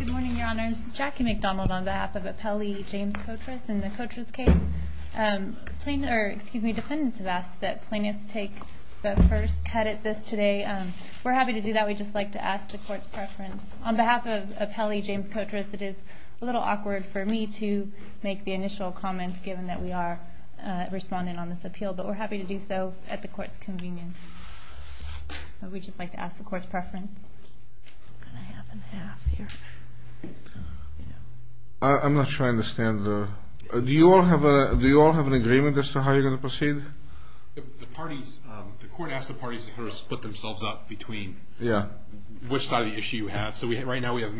Good morning, Your Honors. Jackie McDonald on behalf of Appellee James Cotras in the Cotras case. Dependents have asked that plaintiffs take the first cut at this today. We're happy to do that. We'd just like to ask the Court's preference. On behalf of Appellee James Cotras, it is a little awkward for me to make the initial comments given that we are responding on this appeal, but we're happy to do so at the Court's convenience. We'd just like to ask the Court's preference. I'm not sure I understand. Do you all have an agreement as to how you're going to proceed? The Court asked the parties to split themselves up between which side of the issue you have. So right now we have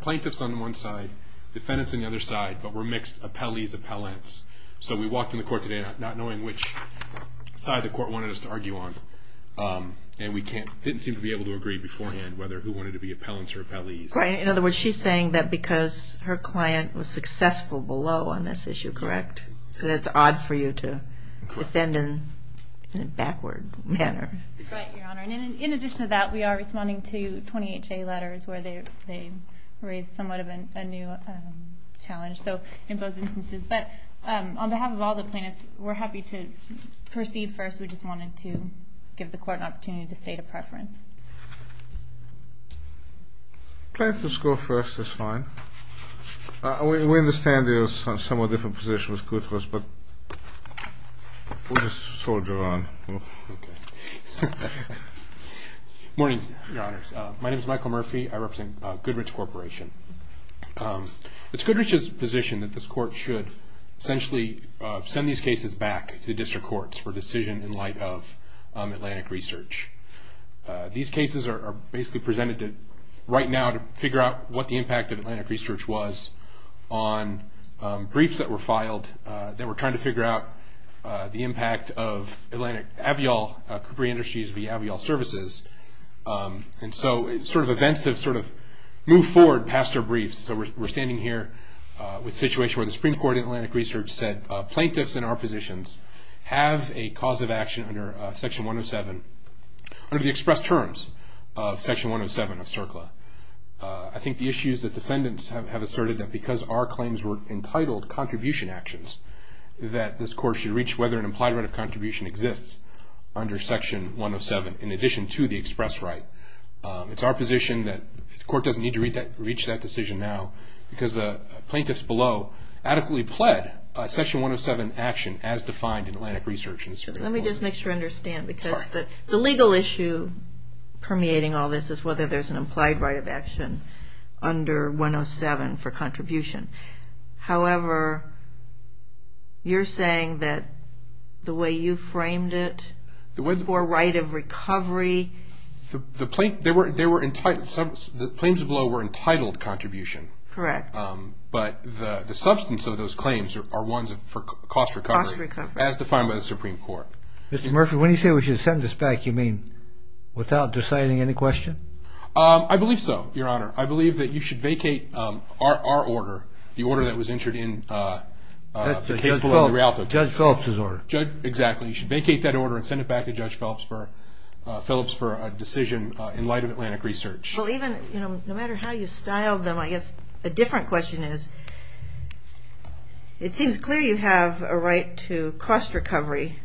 plaintiffs on one side, defendants on the other side, but we're mixed appellees, appellants. So we walked in the Court today not knowing which side the Court wanted us to argue on. And we didn't seem to be able to agree beforehand whether who wanted to be appellants or appellees. In other words, she's saying that because her client was successful below on this issue, correct? So that's odd for you to defend in a backward manner. Right, Your Honor. And in addition to that, we are responding to 28J letters where they raised somewhat of a new challenge in both instances. But on behalf of all the plaintiffs, we're happy to proceed first. We just wanted to give the Court an opportunity to state a preference. Plaintiffs go first is fine. We understand there are somewhat different positions. We'll just soldier on. Morning, Your Honors. My name is Michael Murphy. I represent Goodrich Corporation. It's Goodrich's position that this Court should essentially send these cases back to district courts for decision in light of Atlantic Research. These cases are basically presented right now to figure out what the impact of Atlantic Research was on briefs that were filed that were trying to figure out the impact of Atlantic Aviol, Capri Industries via Aviol Services. And so sort of events have sort of moved forward past our briefs. So we're standing here with a situation where the Supreme Court in Atlantic Research said, plaintiffs in our positions have a cause of action under Section 107, under the express terms of Section 107 of CERCLA. I think the issue is that defendants have asserted that because our claims were entitled contribution actions, that this Court should reach whether an implied right of contribution exists under Section 107, in addition to the express right. It's our position that the Court doesn't need to reach that decision now because the plaintiffs below adequately pled Section 107 action as defined in Atlantic Research. Let me just make sure I understand. Because the legal issue permeating all this is whether there's an implied right of action under 107 for contribution. However, you're saying that the way you framed it for right of recovery. The claims below were entitled contribution. Correct. But the substance of those claims are ones for cost recovery. Cost recovery. As defined by the Supreme Court. Mr. Murphy, when you say we should send this back, you mean without deciding any question? I believe so, Your Honor. I believe that you should vacate our order, the order that was entered in the case below the Rialto case. Judge Phillips' order. Exactly. You should vacate that order and send it back to Judge Phillips for a decision in light of Atlantic Research. No matter how you styled them, I guess a different question is, it seems clear you have a right to cost recovery.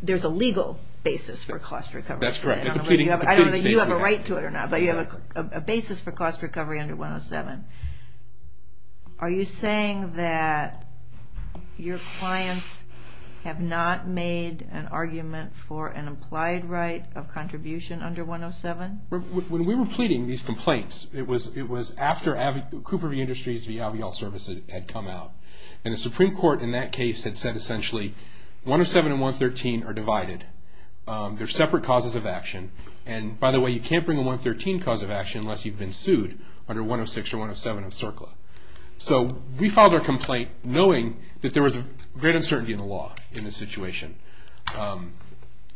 There's a legal basis for cost recovery. That's correct. I don't know if you have a right to it or not, but you have a basis for cost recovery under 107. Are you saying that your clients have not made an argument for an implied right of contribution under 107? When we were pleading these complaints, it was after Cooper v. Industries v. Avial Service had come out. And the Supreme Court in that case had said essentially 107 and 113 are divided. They're separate causes of action. And, by the way, you can't bring a 113 cause of action unless you've been sued under 106 or 107 of CERCLA. So we filed our complaint knowing that there was great uncertainty in the law in this situation.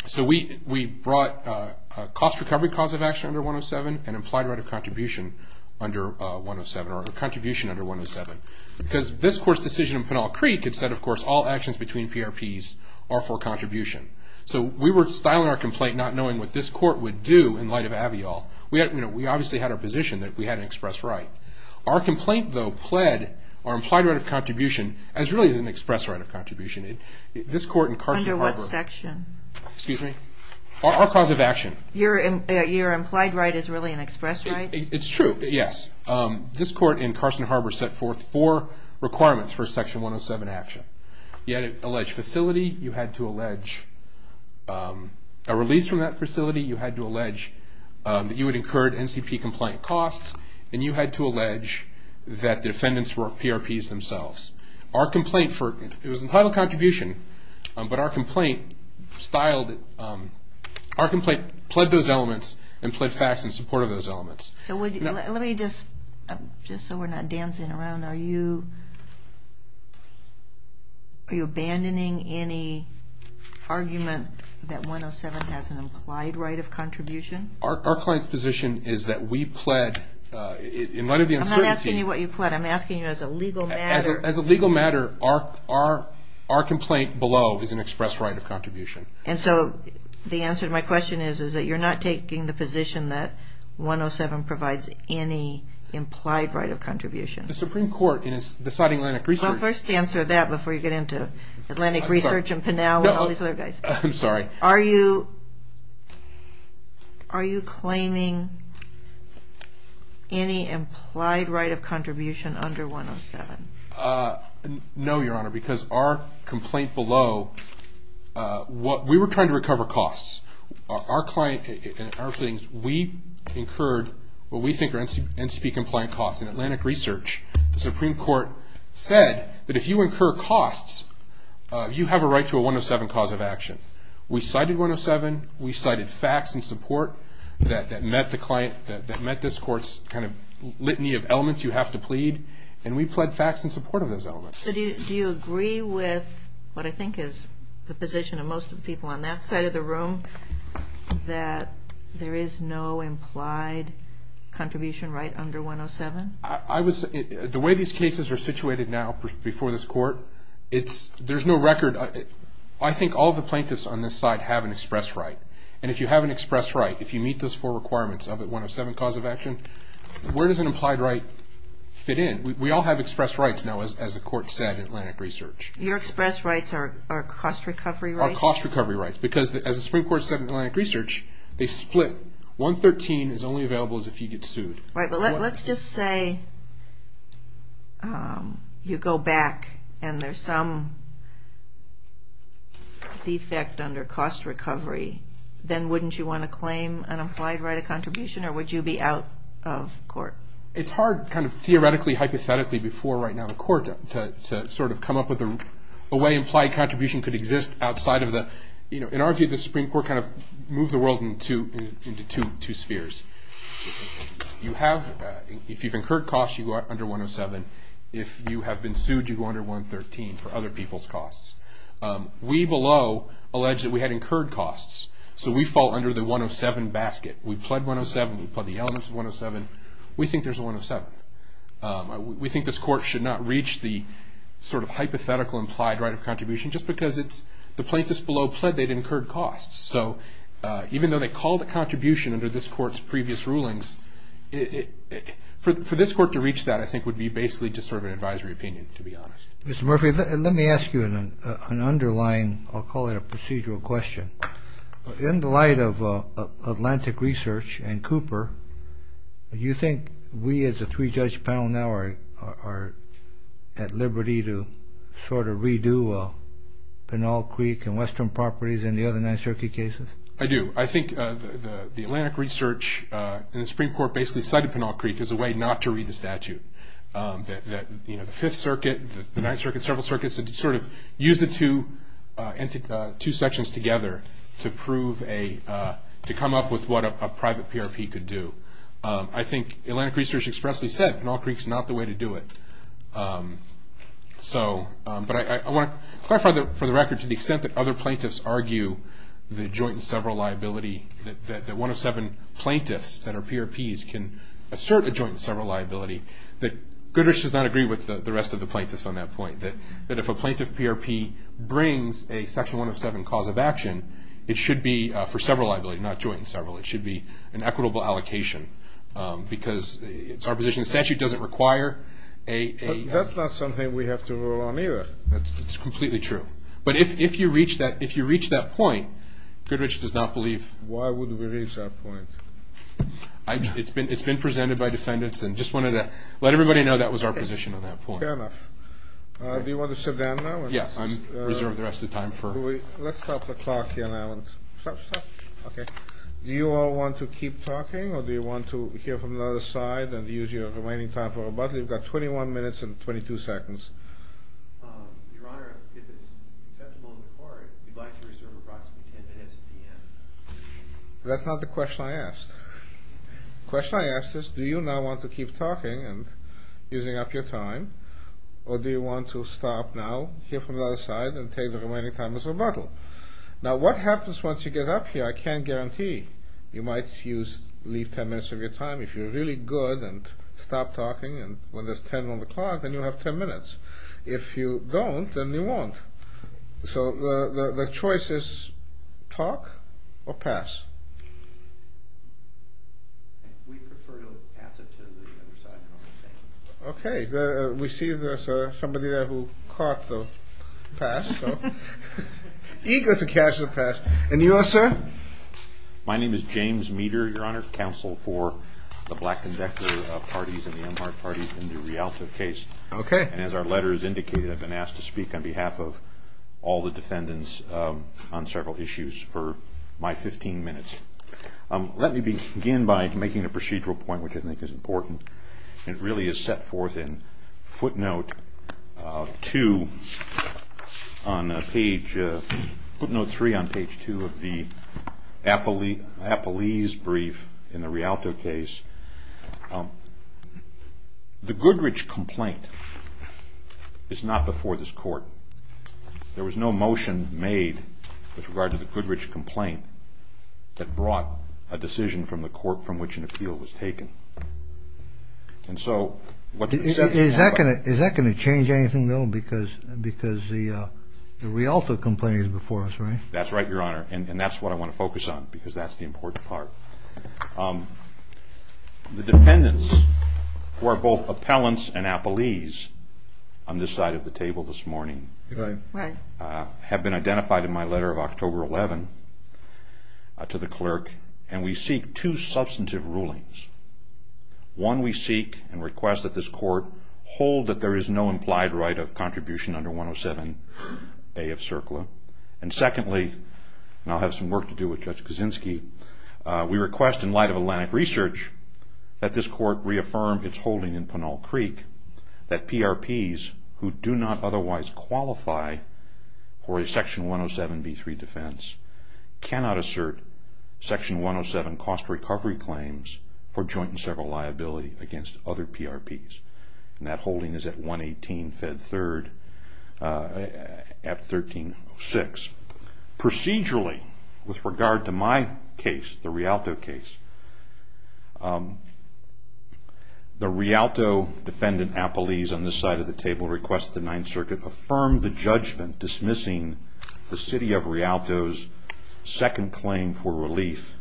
So we brought a cost recovery cause of action under 107 and implied right of contribution under 107 or a contribution under 107 because this Court's decision in Pinal Creek had said, of course, all actions between PRPs are for contribution. So we were styling our complaint not knowing what this Court would do in light of Avial. We obviously had our position that we had an express right. Our complaint, though, pled our implied right of contribution as really an express right of contribution. This Court in Carson Harbor... Under what section? Excuse me? Our cause of action. Your implied right is really an express right? It's true, yes. This Court in Carson Harbor set forth four requirements for Section 107 action. You had to allege facility. You had to allege a release from that facility. You had to allege that you would incur NCP complaint costs. And you had to allege that the defendants were PRPs themselves. Our complaint, it was entitled contribution, but our complaint styled it. Our complaint pled those elements and pled facts in support of those elements. Let me just, just so we're not dancing around, are you abandoning any argument that 107 has an implied right of contribution? Our client's position is that we pled in light of the uncertainty. I'm not asking you what you pled. I'm asking you as a legal matter. As a legal matter, our complaint below is an express right of contribution. And so the answer to my question is that you're not taking the position that 107 provides any implied right of contribution. The Supreme Court in deciding Atlantic Research. I'll first answer that before you get into Atlantic Research and Pinal and all these other guys. I'm sorry. Are you, are you claiming any implied right of contribution under 107? No, Your Honor, because our complaint below, what we were trying to recover costs. Our client, our claims, we incurred what we think are NCP compliant costs in Atlantic Research. The Supreme Court said that if you incur costs, you have a right to a 107 cause of action. We cited 107. We cited facts in support that met the client, that met this court's kind of litany of elements you have to plead. And we pled facts in support of those elements. So do you agree with what I think is the position of most of the people on that side of the room, that there is no implied contribution right under 107? I was, the way these cases are situated now before this court, it's, there's no record. I think all the plaintiffs on this side have an express right. And if you have an express right, if you meet those four requirements of a 107 cause of action, where does an implied right fit in? We all have express rights now, as the court said in Atlantic Research. Your express rights are cost recovery rights? Are cost recovery rights, because as the Supreme Court said in Atlantic Research, they split. 113 is only available as if you get sued. Right, but let's just say you go back and there's some defect under cost recovery. Then wouldn't you want to claim an implied right of contribution, or would you be out of court? It's hard kind of theoretically, hypothetically, before right now the court to sort of come up with a way implied contribution could exist outside of the, you know, in our view, the Supreme Court kind of moved the world into two spheres. You have, if you've incurred costs, you go under 107. If you have been sued, you go under 113 for other people's costs. We below allege that we had incurred costs, so we fall under the 107 basket. We pled 107. We pled the elements of 107. We think there's a 107. We think this court should not reach the sort of hypothetical implied right of contribution, just because it's the plaintiffs below pled they'd incurred costs. So even though they call the contribution under this court's previous rulings, for this court to reach that I think would be basically just sort of an advisory opinion, to be honest. Mr. Murphy, let me ask you an underlying, I'll call it a procedural question. In the light of Atlantic Research and Cooper, do you think we as a three-judge panel now are at liberty to sort of redo Pinal Creek and Western Properties and the other Ninth Circuit cases? I do. I think the Atlantic Research and the Supreme Court basically cited Pinal Creek as a way not to read the statute. You know, the Fifth Circuit, the Ninth Circuit, several circuits, sort of used the two sections together to prove a, to come up with what a private PRP could do. I think Atlantic Research expressly said Pinal Creek's not the way to do it. So, but I want to clarify for the record to the extent that other plaintiffs argue the joint and several liability, that one of seven plaintiffs that are PRPs can assert a joint and several liability, that Goodrich does not agree with the rest of the plaintiffs on that point. That if a plaintiff PRP brings a section 107 cause of action, it should be for several liability, not joint and several. It should be an equitable allocation because it's our position the statute doesn't require a- But that's not something we have to rule on either. That's completely true. But if you reach that point, Goodrich does not believe- Why would we reach that point? It's been presented by defendants and just wanted to let everybody know that was our position on that point. Fair enough. Do you want to sit down now? Yeah, I'm reserved the rest of the time for- Let's stop the clock here now. Stop, stop. Okay. Do you all want to keep talking or do you want to hear from the other side and use your remaining time for rebuttal? You've got 21 minutes and 22 seconds. Your Honor, if it's acceptable in the court, we'd like to reserve approximately 10 minutes at the end. That's not the question I asked. The question I asked is do you now want to keep talking and using up your time or do you want to stop now, hear from the other side, and take the remaining time as rebuttal? Now what happens once you get up here, I can't guarantee. You might leave 10 minutes of your time. If you're really good and stop talking when there's 10 on the clock, then you'll have 10 minutes. If you don't, then you won't. So the choice is talk or pass. We prefer to pass it to the other side. Okay. We see there's somebody there who caught the pass. Eager to catch the pass. And you are, sir? My name is James Meeder, Your Honor, Counsel for the Black and Vector Parties and the Amharic Parties in the Rialto case. Okay. And as our letter has indicated, I've been asked to speak on behalf of all the defendants on several issues for my 15 minutes. Let me begin by making a procedural point which I think is important. It really is set forth in footnote 2 on page – footnote 3 on page 2 of the Apollese brief in the Rialto case. The Goodrich complaint is not before this Court. There was no motion made with regard to the Goodrich complaint that brought a decision from the Court from which an appeal was taken. And so – Is that going to change anything, though? Because the Rialto complaint is before us, right? That's right, Your Honor. And that's what I want to focus on because that's the important part. The defendants who are both appellants and Apollese on this side of the table this morning – Right. Right. – have been identified in my letter of October 11 to the clerk, and we seek two substantive rulings. One, we seek and request that this Court hold that there is no implied right of contribution under 107A of CERCLA. And secondly, and I'll have some work to do with Judge Kaczynski, we request in light of Atlantic Research that this Court reaffirm its holding in Pinal Creek that PRPs who do not otherwise qualify for a Section 107b3 defense cannot assert Section 107 cost recovery claims for joint and several liability against other PRPs. And that holding is at 118 Fed 3rd at 1306. Procedurally, with regard to my case, the Rialto case, the Rialto defendant, Apollese, on this side of the table requests that the Ninth Circuit affirm the judgment dismissing the City of Rialto's second claim for relief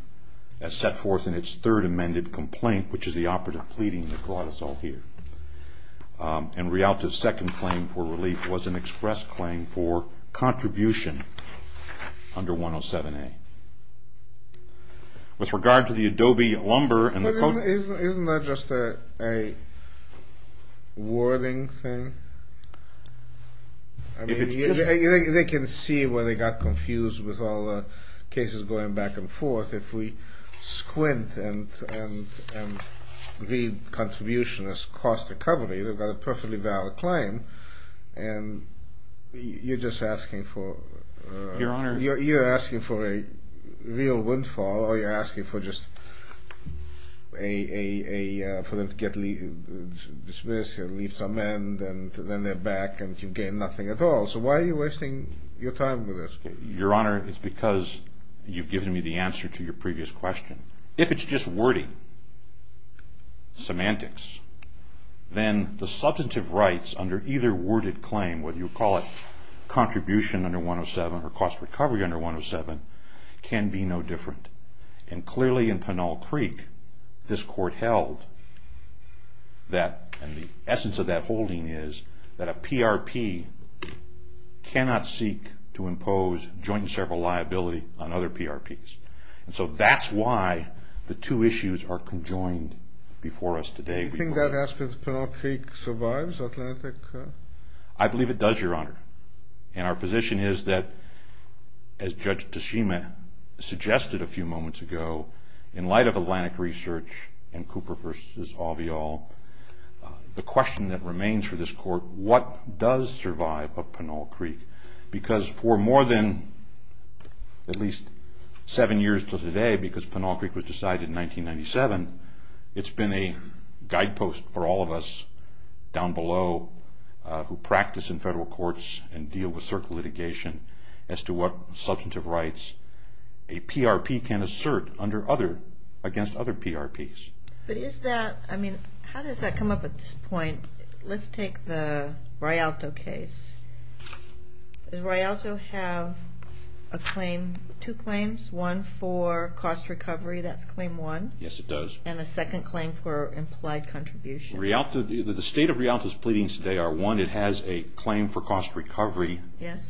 as set forth in its third amended complaint, which is the operative pleading that brought us all here. And Rialto's second claim for relief was an express claim for contribution under 107A. With regard to the Adobe lumber and the – Isn't that just a wording thing? I mean, they can see where they got confused with all the cases going back and forth. If we squint and read contribution as cost recovery, they've got a perfectly valid claim. And you're just asking for – Your Honor – You're asking for a real windfall or you're asking for just a – dismiss, leave some end, and then they're back and you gain nothing at all. So why are you wasting your time with this? Your Honor, it's because you've given me the answer to your previous question. If it's just wording, semantics, then the substantive rights under either worded claim, whether you call it contribution under 107 or cost recovery under 107, can be no different. And clearly in Pinal Creek, this court held that – and the essence of that holding is that a PRP cannot seek to impose joint and several liability on other PRPs. And so that's why the two issues are conjoined before us today. Do you think that aspect of Pinal Creek survives, Atlantic? I believe it does, Your Honor. And our position is that, as Judge Toshima suggested a few moments ago, in light of Atlantic research and Cooper v. Alveol, the question that remains for this court, what does survive of Pinal Creek? Because for more than at least seven years to today, because Pinal Creek was decided in 1997, it's been a guidepost for all of us down below who practice in federal courts and deal with certain litigation as to what substantive rights a PRP can assert against other PRPs. But is that – I mean, how does that come up at this point? Let's take the Rialto case. Does Rialto have two claims, one for cost recovery? That's claim one. Yes, it does. And a second claim for implied contribution. The state of Rialto's pleadings today are, one, it has a claim for cost recovery,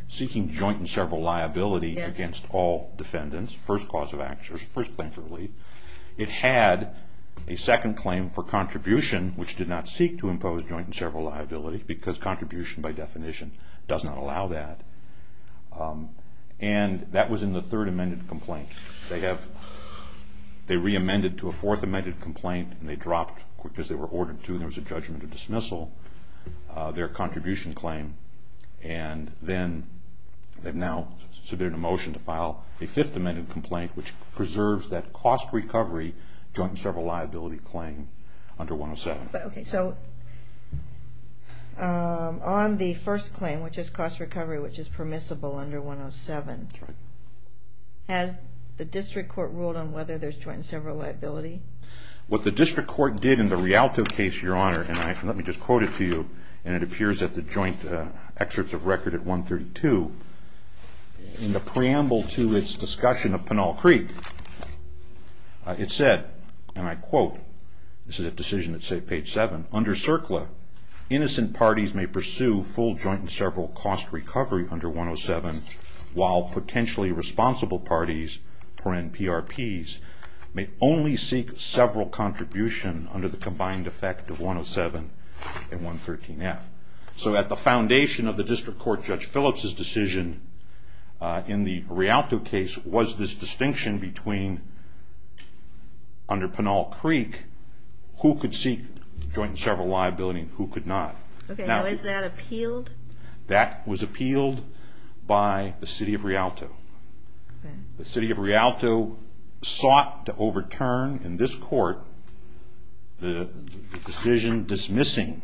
seeking joint and several liability against all defendants, first cause of action, first claim for relief. It had a second claim for contribution, which did not seek to impose joint and several liability, because contribution, by definition, does not allow that. And that was in the third amended complaint. They have – they re-amended to a fourth amended complaint, and they dropped, because they were ordered to, there was a judgment of dismissal, their contribution claim. And then they've now submitted a motion to file a fifth amended complaint, which preserves that cost recovery, joint and several liability claim under 107. Okay, so on the first claim, which is cost recovery, which is permissible under 107, has the district court ruled on whether there's joint and several liability? What the district court did in the Rialto case, Your Honor, and let me just quote it to you, and it appears at the joint excerpts of record at 132, in the preamble to its discussion of Pinal Creek, it said, and I quote, this is a decision that's saved page seven, under CERCLA, innocent parties may pursue full joint and several cost recovery under 107, while potentially responsible parties, PRPs, may only seek several contribution under the combined effect of 107 and 113F. So at the foundation of the district court, Judge Phillips' decision in the Rialto case, was this distinction between, under Pinal Creek, who could seek joint and several liability and who could not. Okay, now is that appealed? That was appealed by the City of Rialto. The City of Rialto sought to overturn in this court the decision dismissing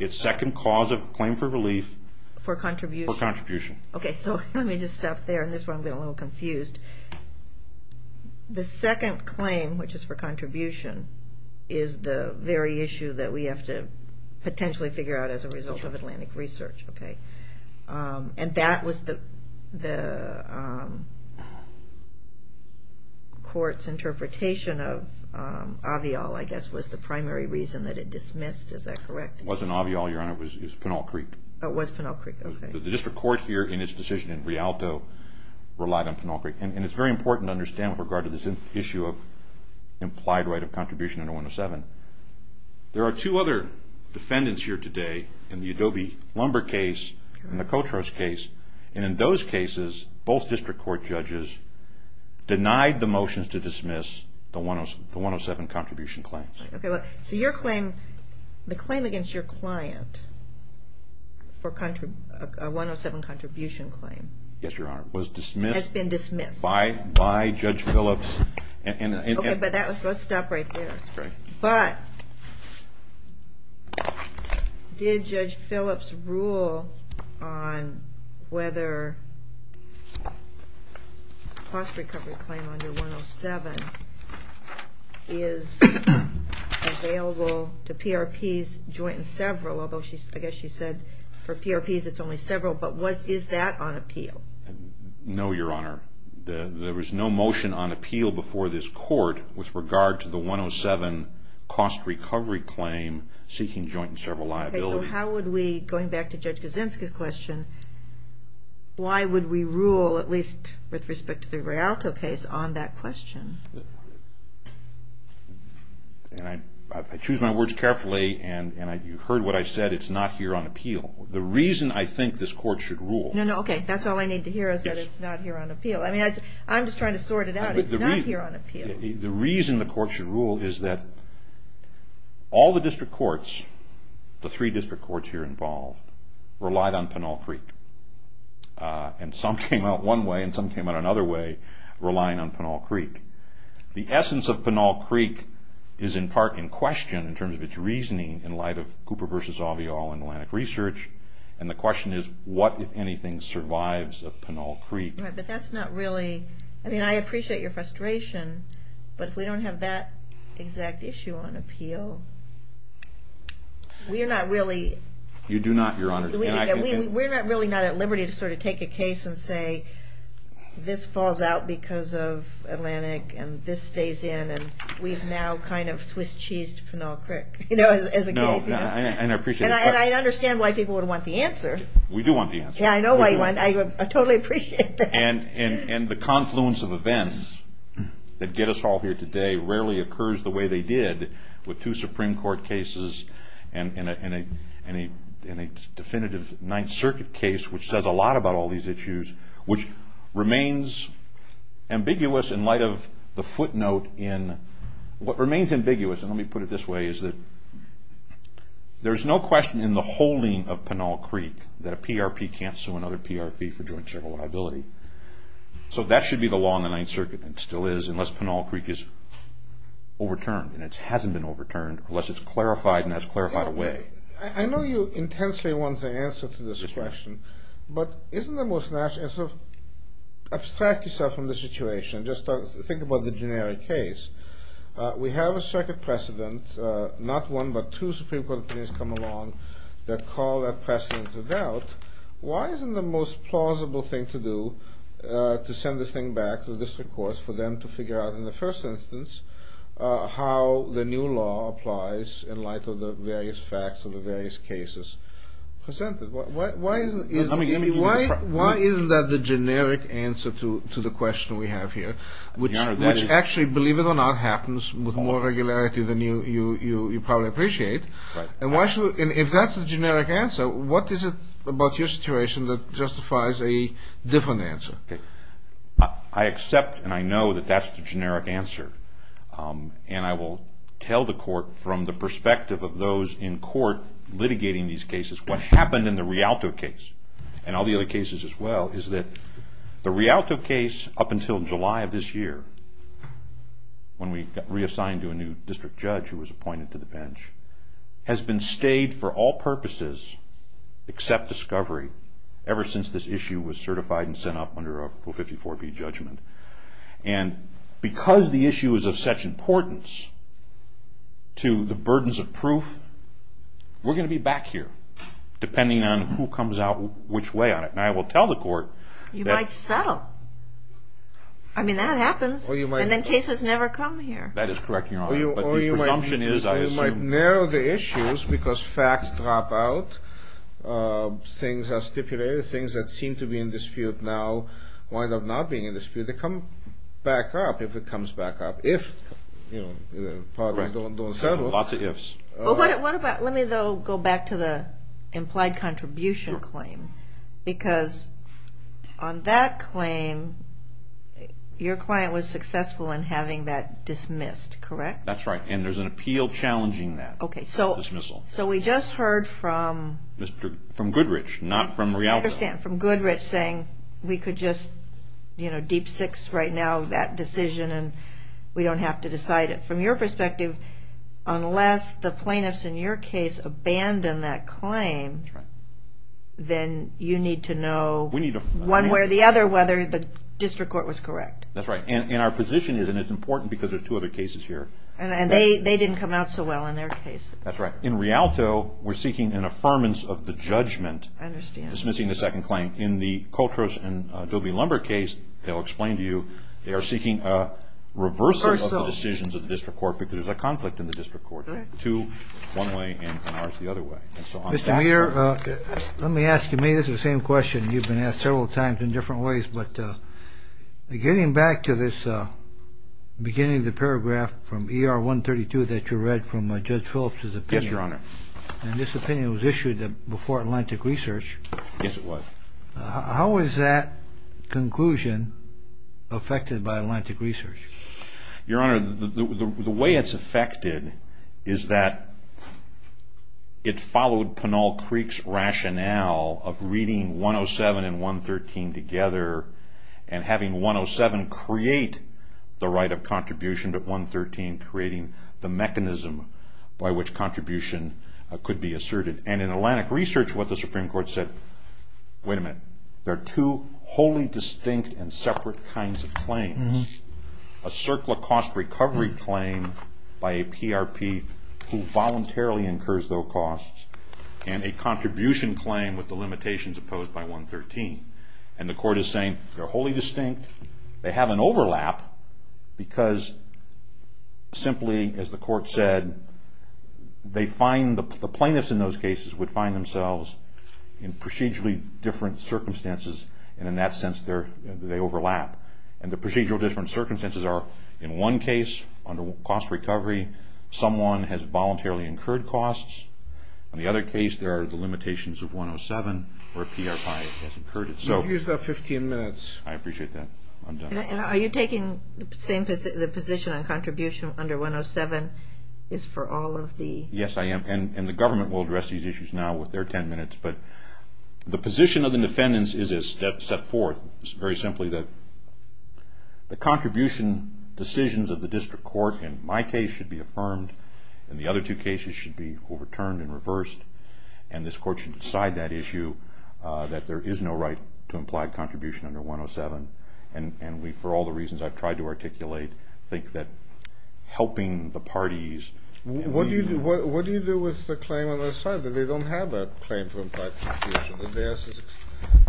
its second cause of claim for relief for contribution. For contribution. Okay, so let me just stop there, in this one I'm getting a little confused. The second claim, which is for contribution, is the very issue that we have to potentially figure out as a result of Atlantic Research, okay? And that was the court's interpretation of Avial, I guess, was the primary reason that it dismissed, is that correct? It wasn't Avial, Your Honor, it was Pinal Creek. It was Pinal Creek, okay. The district court here, in its decision in Rialto, relied on Pinal Creek. And it's very important to understand with regard to this issue of implied right of contribution under 107, there are two other defendants here today in the Adobe Lumber case and the Coltrose case. And in those cases, both district court judges denied the motions to dismiss the 107 contribution claims. Okay, so your claim, the claim against your client for a 107 contribution claim. Yes, Your Honor. Was dismissed. Has been dismissed. By Judge Phillips. Okay, but let's stop right there. But did Judge Phillips rule on whether a cost recovery claim under 107 is available to PRPs joint and several, although I guess she said for PRPs it's only several, but is that on appeal? No, Your Honor. There was no motion on appeal before this court with regard to the 107 cost recovery claim seeking joint and several liabilities. Okay, so how would we, going back to Judge Gazinska's question, why would we rule, at least with respect to the Rialto case, on that question? I choose my words carefully, and you heard what I said. It's not here on appeal. The reason I think this court should rule. No, no, okay. That's all I need to hear is that it's not here on appeal. I mean, I'm just trying to sort it out. It's not here on appeal. The reason the court should rule is that all the district courts, the three district courts here involved, relied on Pinal Creek. And some came out one way, and some came out another way, relying on Pinal Creek. The essence of Pinal Creek is in part in question in terms of its reasoning in light of Cooper v. Avial and Atlantic Research, and the question is what, if anything, survives of Pinal Creek. Right, but that's not really, I mean, I appreciate your frustration, but if we don't have that exact issue on appeal, we're not really. You do not, Your Honor. We're not really not at liberty to sort of take a case and say this falls out because of Atlantic and this stays in, and we've now kind of Swiss-cheesed Pinal Creek, you know, as a case. No, and I appreciate the question. And I understand why people would want the answer. We do want the answer. Yeah, I know why you want it. I totally appreciate that. And the confluence of events that get us all here today rarely occurs the way they did with two Supreme Court cases and a definitive Ninth Circuit case which says a lot about all these issues, which remains ambiguous in light of the footnote in, what remains ambiguous, and let me put it this way, is that there's no question in the holding of Pinal Creek that a PRP can't sue another PRP for joint civil liability. So that should be the law in the Ninth Circuit, and it still is, unless Pinal Creek is overturned, and it hasn't been overturned unless it's clarified, and that's clarified away. I know you intensely want the answer to this question, but isn't the most natural, sort of abstract yourself from the situation, just think about the generic case. We have a circuit precedent, not one but two Supreme Court opinions come along that call that precedent to doubt. Why isn't the most plausible thing to do to send this thing back to the district courts for them to figure out, in the first instance, how the new law applies in light of the various facts of the various cases presented? Why isn't that the generic answer to the question we have here, which actually, believe it or not, happens with more regularity than you probably appreciate, and if that's the generic answer, what is it about your situation that justifies a different answer? I accept and I know that that's the generic answer, and I will tell the court, from the perspective of those in court litigating these cases, what happened in the Rialto case, and all the other cases as well, is that the Rialto case, up until July of this year, when we got reassigned to a new district judge who was appointed to the bench, has been stayed for all purposes except discovery, ever since this issue was certified and sent up under Article 54B judgment, and because the issue is of such importance to the burdens of proof, we're going to be back here, depending on who comes out which way on it, and I will tell the court that... You might settle. I mean, that happens, and then cases never come here. That is correct, Your Honor, but the presumption is, I assume... Or you might narrow the issues because facts drop out, things are stipulated, things that seem to be in dispute now wind up not being in dispute. They come back up if it comes back up, if the parties don't settle. Lots of ifs. Let me, though, go back to the implied contribution claim, because on that claim, your client was successful in having that dismissed, correct? That's right, and there's an appeal challenging that dismissal. So we just heard from... From Goodrich, not from Rialto. I understand, from Goodrich, saying we could just deep six right now that decision, and we don't have to decide it. From your perspective, unless the plaintiffs in your case abandon that claim, then you need to know one way or the other whether the district court was correct. That's right, and our position is, and it's important because there are two other cases here. And they didn't come out so well in their case. That's right. In Rialto, we're seeking an affirmance of the judgment. I understand. Dismissing the second claim. In the Coltrose and Doby-Lumber case, they'll explain to you, they are seeking a reversal of the decisions of the district court because there's a conflict in the district court. Two, one way, and ours the other way. Mr. Meader, let me ask you, maybe this is the same question. You've been asked several times in different ways, but getting back to this beginning of the paragraph from ER 132 that you read from Judge Phillips' opinion. Yes, Your Honor. And this opinion was issued before Atlantic Research. Yes, it was. How is that conclusion affected by Atlantic Research? Your Honor, the way it's affected is that it followed Pinal Creek's rationale of reading 107 and 113 together and having 107 create the right of contribution, but 113 creating the mechanism by which contribution could be asserted. And in Atlantic Research, what the Supreme Court said, wait a minute, there are two wholly distinct and separate kinds of claims. A circular cost recovery claim by a PRP who voluntarily incurs those costs and a contribution claim with the limitations opposed by 113. And the court is saying they're wholly distinct. They have an overlap because simply, as the court said, they find the plaintiffs in those cases would find themselves in procedurally different circumstances, and in that sense, they overlap. And the procedural different circumstances are, in one case, under cost recovery, someone has voluntarily incurred costs. In the other case, there are the limitations of 107 or a PRP has incurred it. You've used up 15 minutes. I appreciate that. I'm done. And are you taking the position on contribution under 107 is for all of the? Yes, I am. And the government will address these issues now with their 10 minutes. But the position of the defendants is as set forth. It's very simply that the contribution decisions of the district court, in my case, should be affirmed, and the other two cases should be overturned and reversed. And this court should decide that issue, that there is no right to implied contribution under 107. And we, for all the reasons I've tried to articulate, think that helping the parties. What do you do with the claim on the other side? They don't have a claim for implied contribution. Their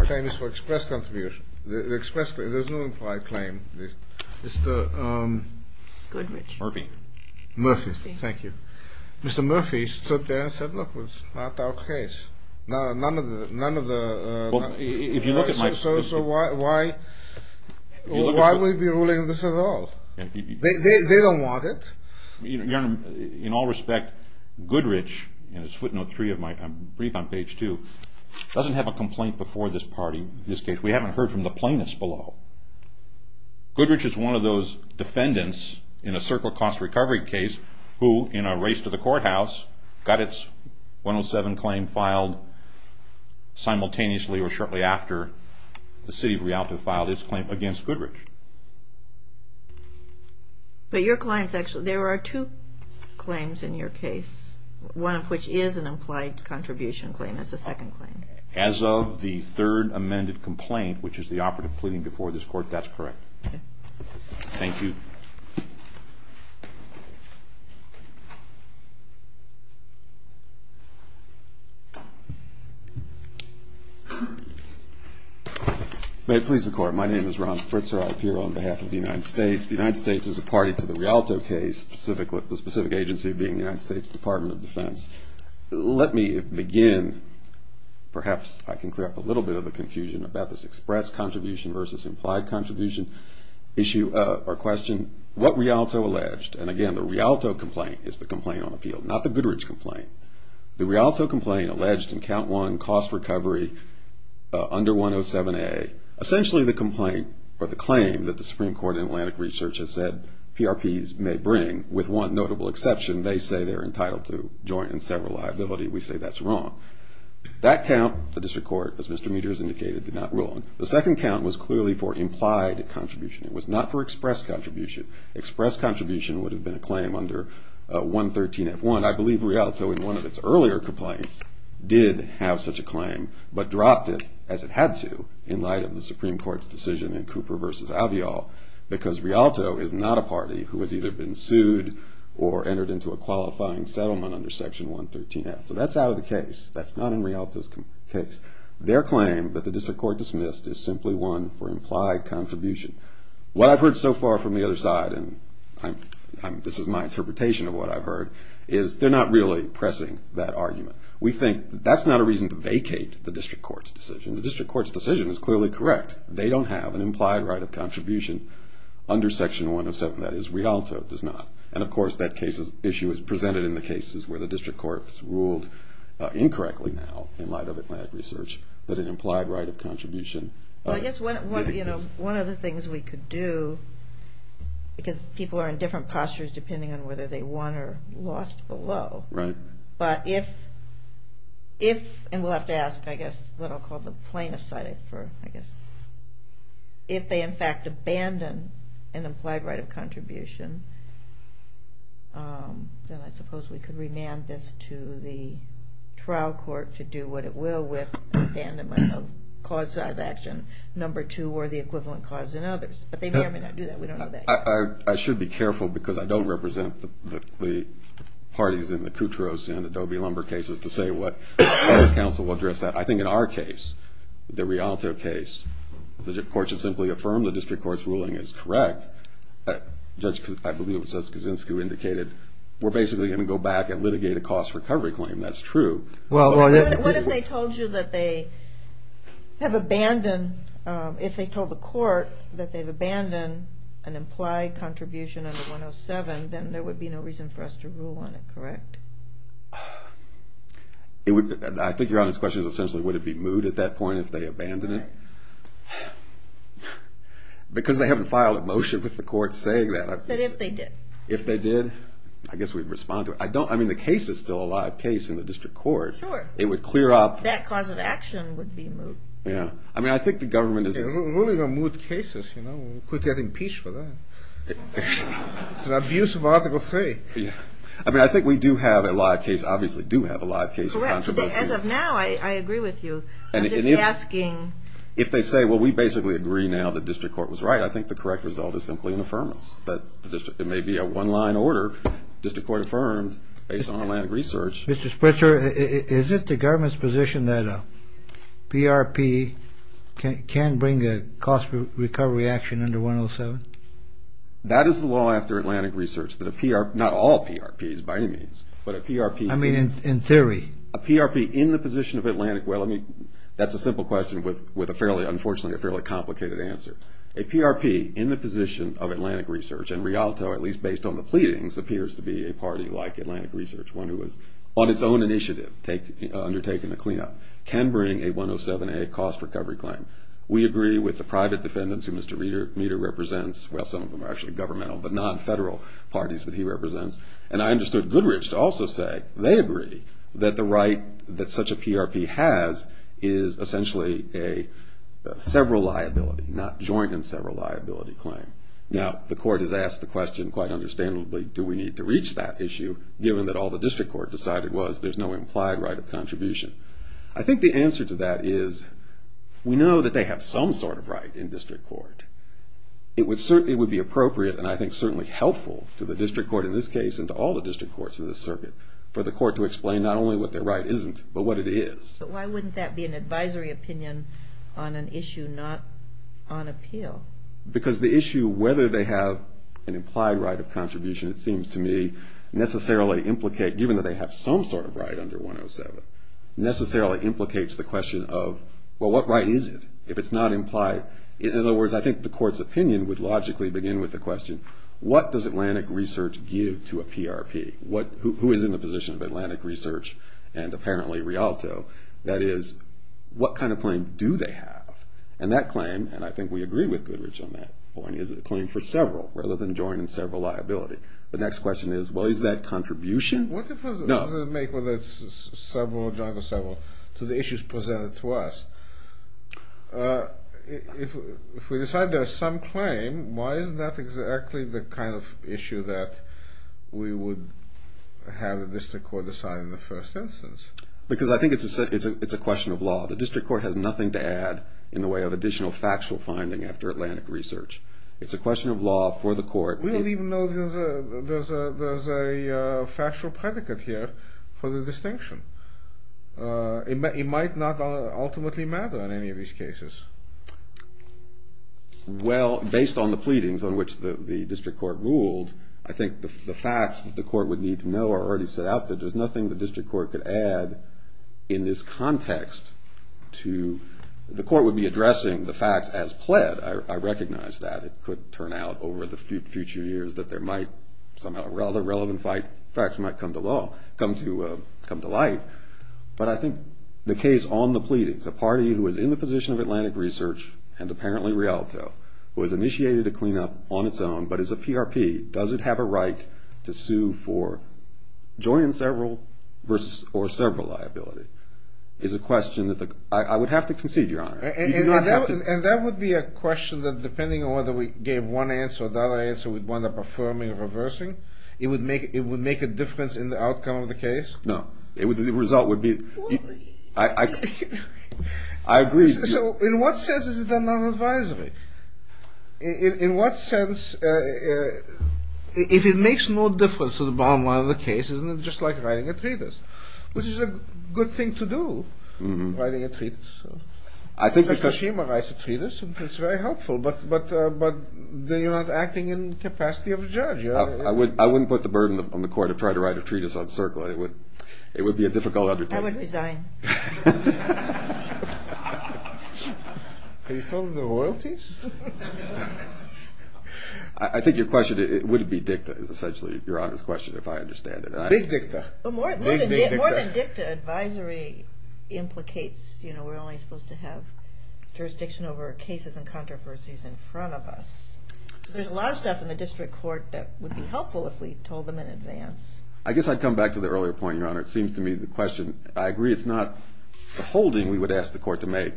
claim is for express contribution. There's no implied claim. Mr. Murphy. Murphy, thank you. Mr. Murphy stood there and said, look, it's not our case. None of the... So why would we be ruling this at all? They don't want it. In all respect, Goodrich, and it's footnote three of my brief on page two, doesn't have a complaint before this case. We haven't heard from the plaintiffs below. Goodrich is one of those defendants in a circle cost recovery case who, in a race to the courthouse, got its 107 claim filed simultaneously or shortly after the city of Rialto filed its claim against Goodrich. But your claim is actually... There are two claims in your case, one of which is an implied contribution claim as a second claim. As of the third amended complaint, which is the operative pleading before this court, that's correct. Thank you. May it please the Court, my name is Ron Spritzer. I appear on behalf of the United States. The United States is a party to the Rialto case, the specific agency being the United States Department of Defense. Let me begin, perhaps I can clear up a little bit of the confusion about this express contribution versus implied contribution issue or question. What Rialto alleged, and again, the Rialto complaint is the complaint on appeal, not the Goodrich complaint. The Rialto complaint alleged in count one, cost recovery under 107A, essentially the complaint or the claim that the Supreme Court in Atlantic Research has said PRPs may bring, with one notable exception, they say they're entitled to joint and several liability. We say that's wrong. That count, the district court, as Mr. Meters indicated, did not rule on. The second count was clearly for implied contribution. It was not for express contribution. Express contribution would have been a claim under 113F1. I believe Rialto in one of its earlier complaints did have such a claim, but dropped it as it had to in light of the Supreme Court's decision in Cooper v. Alveol, because Rialto is not a party who has either been sued or entered into a qualifying settlement under section 113F. So that's out of the case. That's not in Rialto's case. Their claim that the district court dismissed is simply one for implied contribution. What I've heard so far from the other side, and this is my interpretation of what I've heard, is they're not really pressing that argument. We think that's not a reason to vacate the district court's decision. The district court's decision is clearly correct. They don't have an implied right of contribution under section 107. That is, Rialto does not. And, of course, that issue is presented in the cases where the district court has ruled, incorrectly now in light of Atlantic Research, that an implied right of contribution exists. Well, I guess one of the things we could do, because people are in different postures depending on whether they won or lost below, but if, and we'll have to ask, I guess, what I'll call the plaintiff's side for, I guess, if they, in fact, abandon an implied right of contribution, then I suppose we could remand this to the trial court to do what it will with abandonment of cause of action number two or the equivalent cause in others. But they may or may not do that. We don't know that yet. I should be careful, because I don't represent the parties in the Cutros and Adobe Lumber cases to say what our counsel will address that. I think in our case, the Rialto case, the court should simply affirm the district court's ruling is correct. Judge, I believe it was Judge Kaczynski who indicated, we're basically going to go back and litigate a cost recovery claim. That's true. What if they told you that they have abandoned, if they told the court that they've abandoned an implied contribution under 107, then there would be no reason for us to rule on it, correct? I think Your Honor's question is essentially, would it be moot at that point if they abandoned it? Right. Because they haven't filed a motion with the court saying that. But if they did? If they did, I guess we'd respond to it. I mean, the case is still a live case in the district court. Sure. It would clear up. That cause of action would be moot. Yeah. I mean, I think the government is. They're ruling on moot cases, you know. Quit getting impeached for that. It's an abuse of Article 3. Yeah. I mean, I think we do have a live case, obviously do have a live case. Correct. As of now, I agree with you. I'm just asking. If they say, well, we basically agree now that district court was right, I think the correct result is simply an affirmance that it may be a one-line order, district court affirmed based on Atlantic Research. Mr. Spritzer, is it the government's position that a PRP can bring a cost recovery action under 107? That is the law after Atlantic Research, that a PRP, not all PRPs by any means, but a PRP. I mean, in theory. A PRP in the position of Atlantic. Well, I mean, that's a simple question with a fairly, unfortunately, a fairly complicated answer. A PRP in the position of Atlantic Research, and Rialto, at least based on the pleadings, appears to be a party like Atlantic Research, one who has on its own initiative undertaken a cleanup, can bring a 107A cost recovery claim. We agree with the private defendants who Mr. Meeder represents. Well, some of them are actually governmental, but non-federal parties that he represents. And I understood Goodrich to also say they agree that the right that such a PRP has is essentially a several liability, not joint and several liability claim. Now, the court has asked the question, quite understandably, do we need to reach that issue, given that all the district court decided was there's no implied right of contribution. I think the answer to that is we know that they have some sort of right in district court. It would be appropriate, and I think certainly helpful, to the district court in this case and to all the district courts in this circuit, for the court to explain not only what their right isn't, but what it is. But why wouldn't that be an advisory opinion on an issue, not on appeal? Because the issue, whether they have an implied right of contribution, it seems to me, necessarily implicate, given that they have some sort of right under 107, necessarily implicates the question of, well, what right is it if it's not implied? In other words, I think the court's opinion would logically begin with the question, what does Atlantic Research give to a PRP? Who is in the position of Atlantic Research and apparently Rialto? That is, what kind of claim do they have? And that claim, and I think we agree with Goodrich on that point, is a claim for several rather than joint and several liability. The next question is, well, is that contribution? What difference does it make whether it's several, joint or several, to the issues presented to us? If we decide there's some claim, why is that exactly the kind of issue that we would have the district court decide in the first instance? Because I think it's a question of law. The district court has nothing to add in the way of additional factual finding after Atlantic Research. It's a question of law for the court. We don't even know there's a factual predicate here for the distinction. It might not ultimately matter in any of these cases. Well, based on the pleadings on which the district court ruled, I think the facts that the court would need to know are already set out. There's nothing the district court could add in this context to... The court would be addressing the facts as pled. I recognize that it could turn out over the future years that there might somehow a rather relevant fact might come to light. But I think the case on the pleadings, a party who is in the position of Atlantic Research and apparently Rialto, who has initiated a cleanup on its own but is a PRP, doesn't have a right to sue for joint and several versus or several liability, is a question that I would have to concede, Your Honor. And that would be a question that depending on whether we gave one answer or the other answer, we'd wind up affirming or reversing, it would make a difference in the outcome of the case? No. The result would be... I agree. So in what sense is it done non-advisory? In what sense, if it makes no difference to the bottom line of the case, isn't it just like writing a treatise, which is a good thing to do, writing a treatise? I think because... Mr. Shima writes a treatise and it's very helpful, but you're not acting in capacity of a judge. I wouldn't put the burden on the court to try to write a treatise on CERCLA. It would be a difficult undertaking. I would resign. Are you still in the royalties? I think your question, would it be dicta, is essentially Your Honor's question, if I understand it. Big dicta. More than dicta, advisory implicates we're only supposed to have jurisdiction over cases and controversies in front of us. There's a lot of stuff in the district court that would be helpful if we told them in advance. I guess I'd come back to the earlier point, Your Honor. It seems to me the question, I agree it's not a holding we would ask the court to make.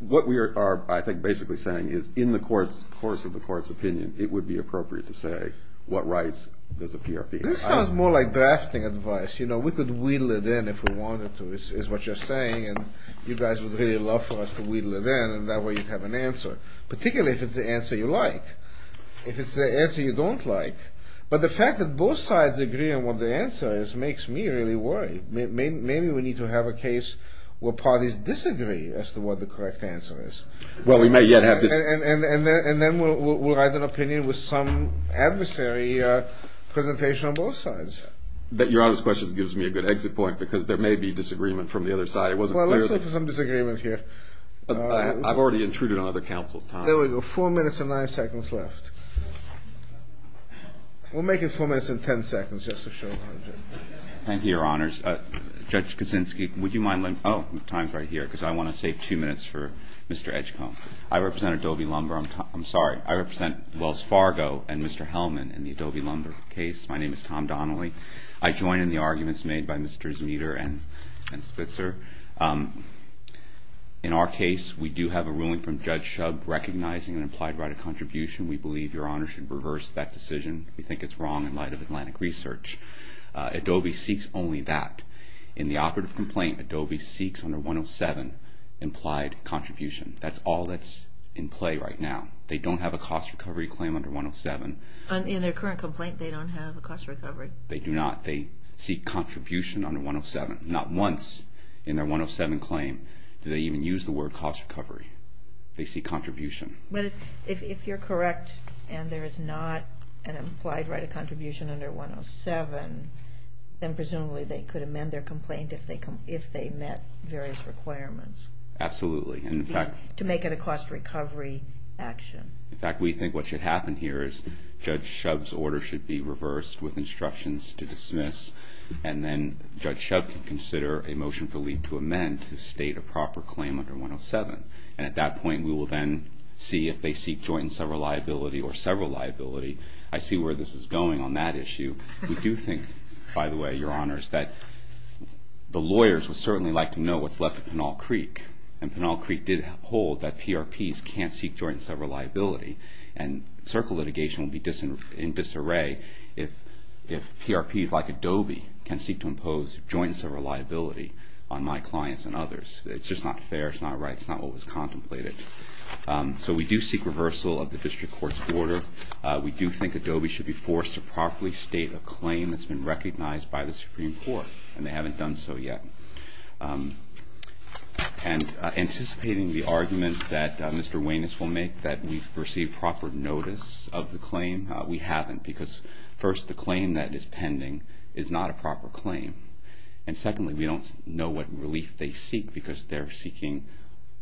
What we are, I think, basically saying is in the course of the court's opinion, it would be appropriate to say what rights does a PRP. This sounds more like drafting advice. We could wheedle it in if we wanted to, is what you're saying, and you guys would really love for us to wheedle it in, and that way you'd have an answer, particularly if it's the answer you like. If it's the answer you don't like. But the fact that both sides agree on what the answer is makes me really worried. Maybe we need to have a case where parties disagree as to what the correct answer is. Well, we may yet have this. And then we'll write an opinion with some adversary presentation on both sides. Your Honor's question gives me a good exit point because there may be disagreement from the other side. Well, let's look for some disagreement here. I've already intruded on other counsel's time. There we go. Four minutes and nine seconds left. We'll make it four minutes and ten seconds just to show. Thank you, Your Honors. Judge Kuczynski, would you mind letting me, oh, the time is right here because I want to save two minutes for Mr. Edgecomb. I represent Adobe Lumber. I'm sorry. I represent Wells Fargo and Mr. Hellman in the Adobe Lumber case. My name is Tom Donnelly. I join in the arguments made by Mr. Zmider and Spitzer. In our case, we do have a ruling from Judge Shub recognizing an implied right of contribution. We believe Your Honor should reverse that decision. We think it's wrong in light of Atlantic Research. Adobe seeks only that. In the operative complaint, Adobe seeks under 107 implied contribution. That's all that's in play right now. They don't have a cost recovery claim under 107. In their current complaint, they don't have a cost recovery. They do not. They seek contribution under 107, not once in their 107 claim do they even use the word cost recovery. They seek contribution. But if you're correct and there is not an implied right of contribution under 107, then presumably they could amend their complaint if they met various requirements. Absolutely. To make it a cost recovery action. In fact, we think what should happen here is Judge Shub's order should be reversed with instructions to dismiss, and then Judge Shub can consider a motion for leave to amend to state a proper claim under 107. And at that point, we will then see if they seek joint and several liability or several liability. I see where this is going on that issue. We do think, by the way, Your Honors, that the lawyers would certainly like to know what's left of Pinal Creek. And Pinal Creek did hold that PRPs can't seek joint and several liability. And circle litigation would be in disarray if PRPs like Adobe can seek to impose joint and several liability on my clients and others. It's just not fair. It's not right. It's not what was contemplated. So we do seek reversal of the district court's order. We do think Adobe should be forced to properly state a claim that's been recognized by the Supreme Court, and they haven't done so yet. And anticipating the argument that Mr. Weines will make that we've received proper notice of the claim, we haven't because, first, the claim that is pending is not a proper claim. And, secondly, we don't know what relief they seek because they're seeking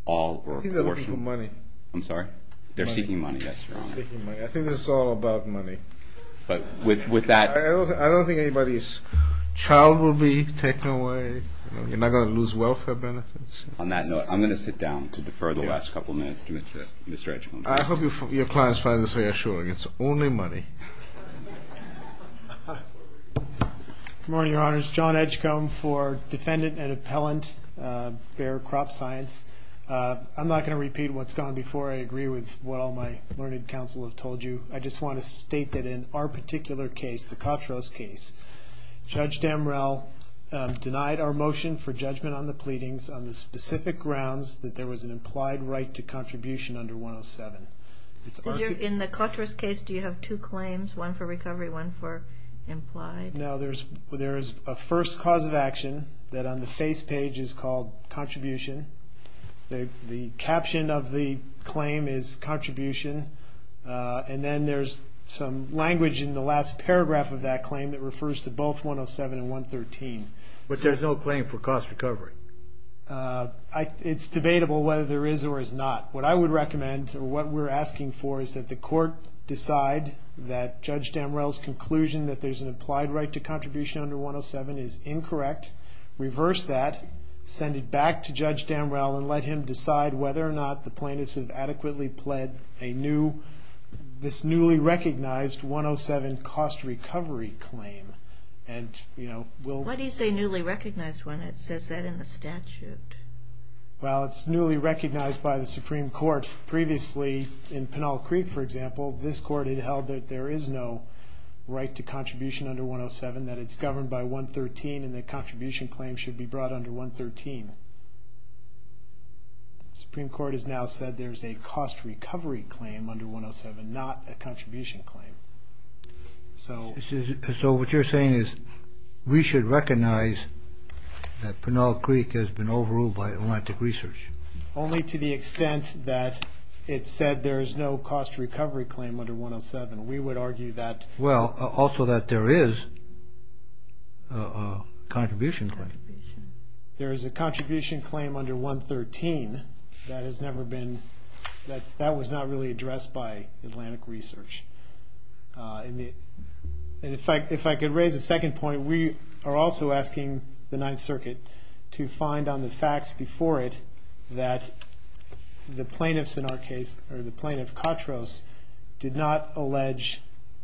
all or a portion. I think they're looking for money. I'm sorry? Money. They're seeking money, yes, Your Honor. They're seeking money. I think this is all about money. I don't think anybody's child will be taken away. You're not going to lose welfare benefits. On that note, I'm going to sit down to defer the last couple of minutes to Mr. Edgecombe. I hope your clients find this reassuring. It's only money. Good morning, Your Honors. John Edgecombe for defendant and appellant, Bayer Crop Science. I'm not going to repeat what's gone before. I agree with what all my learned counsel have told you. I just want to state that in our particular case, the Kotros case, Judge Damrell denied our motion for judgment on the pleadings on the specific grounds that there was an implied right to contribution under 107. In the Kotros case, do you have two claims, one for recovery, one for implied? No. There is a first cause of action that on the face page is called contribution. The caption of the claim is contribution, and then there's some language in the last paragraph of that claim that refers to both 107 and 113. But there's no claim for cost recovery. It's debatable whether there is or is not. What I would recommend or what we're asking for is that the court decide that Judge Damrell's conclusion that there's an implied right to contribution under 107 is incorrect, reverse that, send it back to Judge Damrell, and let him decide whether or not the plaintiffs have adequately pled this newly recognized 107 cost recovery claim. Why do you say newly recognized when it says that in the statute? Well, it's newly recognized by the Supreme Court. Previously, in Pinal Creek, for example, this court had held that there is no right to contribution under 107, that it's governed by 113, and the contribution claim should be brought under 113. The Supreme Court has now said there's a cost recovery claim under 107, not a contribution claim. So what you're saying is we should recognize that Pinal Creek has been overruled by Atlantic Research? Only to the extent that it said there is no cost recovery claim under 107. Well, also that there is a contribution claim. There is a contribution claim under 113 that was not really addressed by Atlantic Research. If I could raise a second point, we are also asking the Ninth Circuit to find on the facts before it that the plaintiffs in our case, or the plaintiff, Katros, did not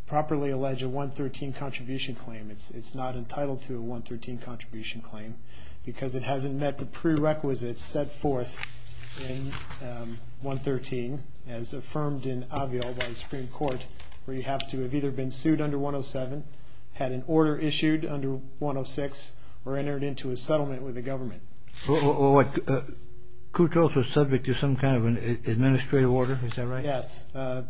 properly allege a 113 contribution claim. It's not entitled to a 113 contribution claim because it hasn't met the prerequisites set forth in 113, as affirmed in Aviol by the Supreme Court, where you have to have either been sued under 107, had an order issued under 106, or entered into a settlement with the government. Well, what, Katros was subject to some kind of an administrative order, is that right? Yes, a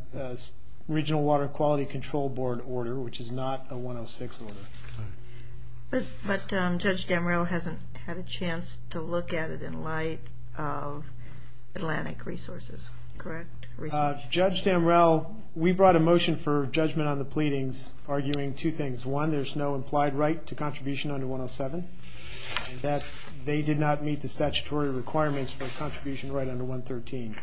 Regional Water Quality Control Board order, which is not a 106 order. But Judge Damrell hasn't had a chance to look at it in light of Atlantic Resources, correct? Judge Damrell, we brought a motion for judgment on the pleadings, arguing two things. One, there's no implied right to contribution under 107, and that they did not meet the statutory requirements for a contribution right under 113.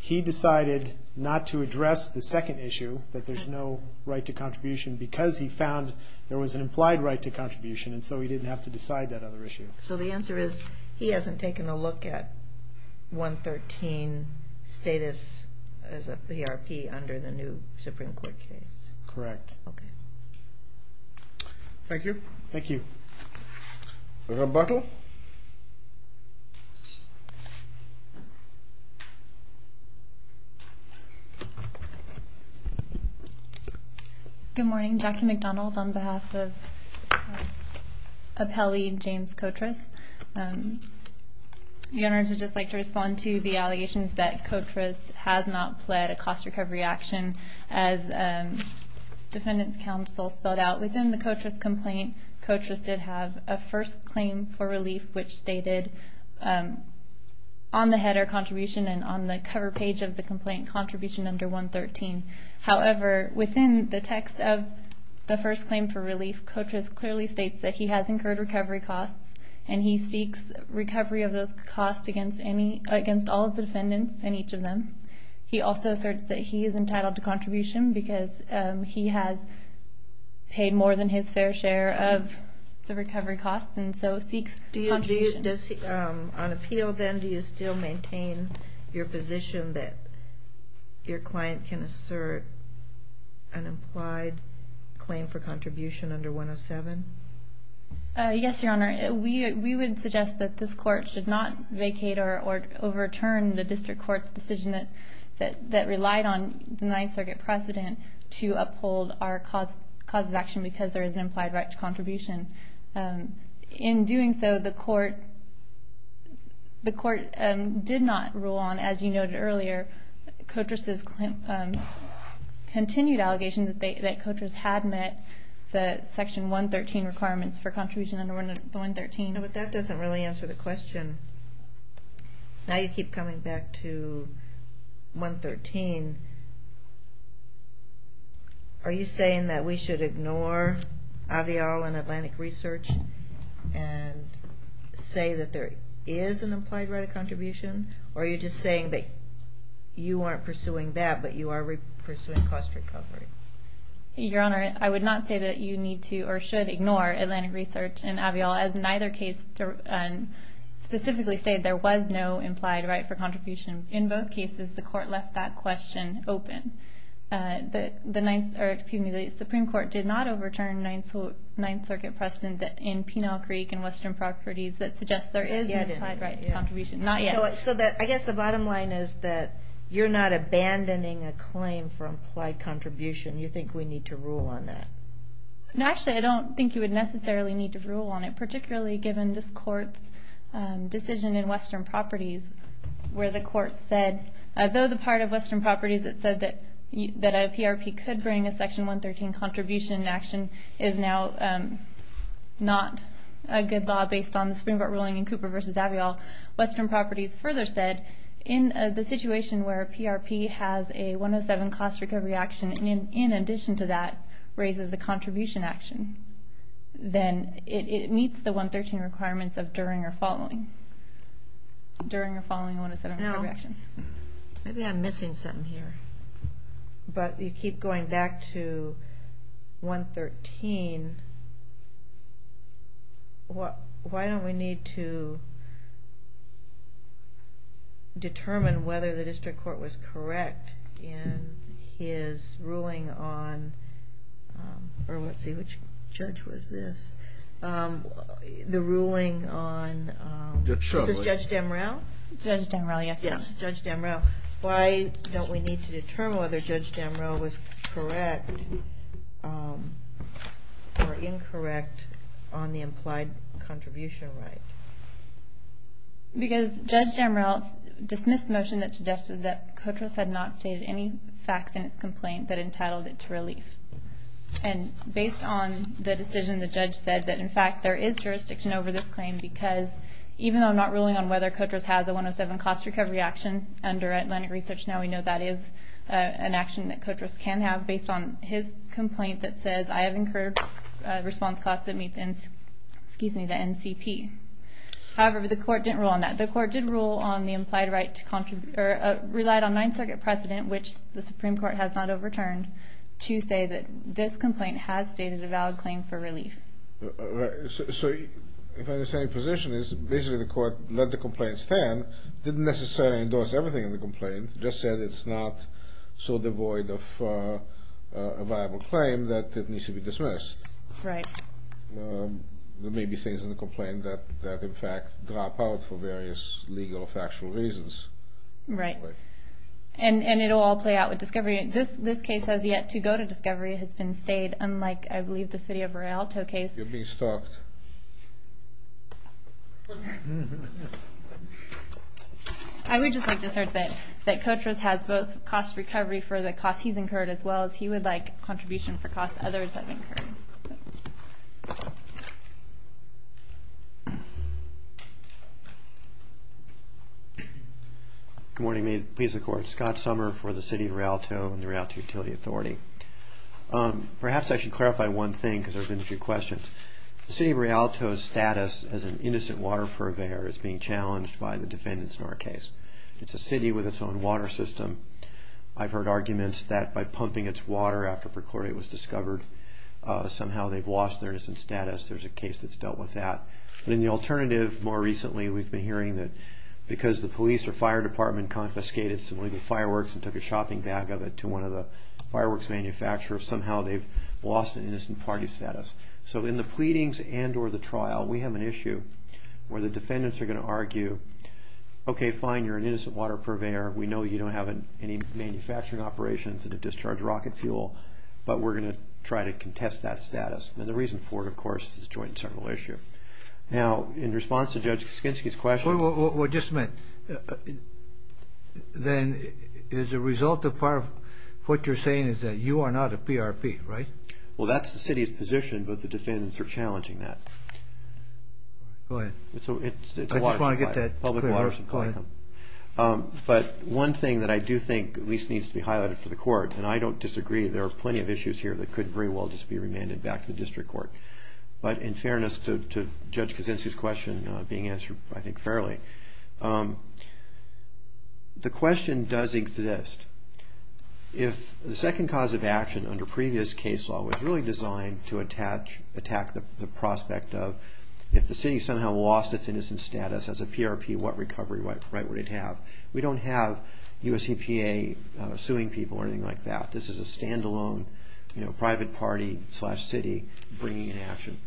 He decided not to address the second issue, that there's no right to contribution, because he found there was an implied right to contribution, and so he didn't have to decide that other issue. So the answer is, he hasn't taken a look at 113 status as a PRP under the new Supreme Court case? Correct. Okay. Thank you. Thank you. Rebuttal. Good morning. Jackie McDonald on behalf of Appellee James Kotras. The owners would just like to respond to the allegations that Kotras has not pled a cost recovery action. As Defendant's Counsel spelled out, within the Kotras complaint, Kotras did have a first claim for relief, which stated on the header contribution and on the cover page of the complaint, contribution under 113. However, within the text of the first claim for relief, Kotras clearly states that he has incurred recovery costs, and he seeks recovery of those costs against all of the defendants and each of them. He also asserts that he is entitled to contribution because he has paid more than his fair share of the recovery costs, and so seeks contribution. On appeal, then, do you still maintain your position that your client can assert an implied claim for contribution under 107? Yes, Your Honor. We would suggest that this Court should not vacate or overturn the district court's decision that relied on the Ninth Circuit precedent to uphold our cause of action because there is an implied right to contribution. In doing so, the Court did not rule on, as you noted earlier, Kotras's continued allegation that Kotras had met the Section 113 requirements for contribution under the 113. No, but that doesn't really answer the question. Now you keep coming back to 113. Are you saying that we should ignore AVIOL and Atlantic Research and say that there is an implied right of contribution, or are you just saying that you aren't pursuing that but you are pursuing cost recovery? Your Honor, I would not say that you need to or should ignore Atlantic Research and AVIOL. As neither case specifically stated, there was no implied right for contribution. In both cases, the Court left that question open. The Supreme Court did not overturn Ninth Circuit precedent in Penal Creek and Western Properties that suggests there is an implied right of contribution. Not yet. So I guess the bottom line is that you're not abandoning a claim for implied contribution. You think we need to rule on that? No, actually, I don't think you would necessarily need to rule on it, particularly given this Court's decision in Western Properties where the Court said, though the part of Western Properties that said that a PRP could bring a Section 113 contribution action is now not a good law based on the Supreme Court ruling in Cooper v. AVIOL, Western Properties further said, in the situation where a PRP has a 107 cost recovery action in addition to that raises a contribution action, then it meets the 113 requirements of during or following. During or following a 107 recovery action. Maybe I'm missing something here. But you keep going back to 113. Why don't we need to determine whether the District Court was correct in his ruling on or let's see, which judge was this? The ruling on, this is Judge Damrell? Judge Damrell, yes. Judge Damrell. Why don't we need to determine whether Judge Damrell was correct or incorrect on the implied contribution right? Because Judge Damrell dismissed the motion that suggested that and based on the decision the judge said that in fact there is jurisdiction over this claim because even though I'm not ruling on whether COTRS has a 107 cost recovery action under Atlantic Research, now we know that is an action that COTRS can have based on his complaint that says, I have incurred response costs that meet the NCP. However, the Court didn't rule on that. The Court did rule on the implied right to contribute or relied on Ninth Circuit precedent, which the Supreme Court has not overturned, to say that this complaint has stated a valid claim for relief. So if I understand your position is basically the Court let the complaint stand, didn't necessarily endorse everything in the complaint, just said it's not so devoid of a viable claim that it needs to be dismissed. Right. There may be things in the complaint that in fact drop out for various legal or factual reasons. Right. And it will all play out with discovery. This case has yet to go to discovery. It has been stayed unlike, I believe, the city of Rialto case. You're being stalked. I would just like to assert that COTRS has both cost recovery for the cost he's incurred as well as he would like contribution for costs others have incurred. Thank you. Good morning. May it please the Court. Scott Sommer for the city of Rialto and the Rialto Utility Authority. Perhaps I should clarify one thing because there have been a few questions. The city of Rialto's status as an innocent water purveyor is being challenged by the defendants in our case. It's a city with its own water system. I've heard arguments that by pumping its water after per chlorate was discovered, somehow they've lost their innocent status. There's a case that's dealt with that. But in the alternative, more recently we've been hearing that because the police or fire department confiscated some legal fireworks and took a shopping bag of it to one of the fireworks manufacturers, somehow they've lost an innocent party status. So in the pleadings and or the trial, we have an issue where the defendants are going to argue, okay, fine, you're an innocent water purveyor. We know you don't have any manufacturing operations that have discharged rocket fuel, but we're going to try to contest that status. And the reason for it, of course, is a joint and several issue. Now, in response to Judge Skinski's question. Well, just a minute. Then as a result of part of what you're saying is that you are not a PRP, right? Well, that's the city's position, but the defendants are challenging that. Go ahead. I just want to get that clear. But one thing that I do think at least needs to be highlighted for the court, and I don't disagree, there are plenty of issues here that could very well just be remanded back to the district court. But in fairness to Judge Skinski's question being answered, I think, fairly, the question does exist. If the second cause of action under previous case law was really designed to attack the prospect of if the city somehow lost its innocent status as a PRP, what recovery right would it have? We don't have US EPA suing people or anything like that. This is a standalone private party slash city bringing in action.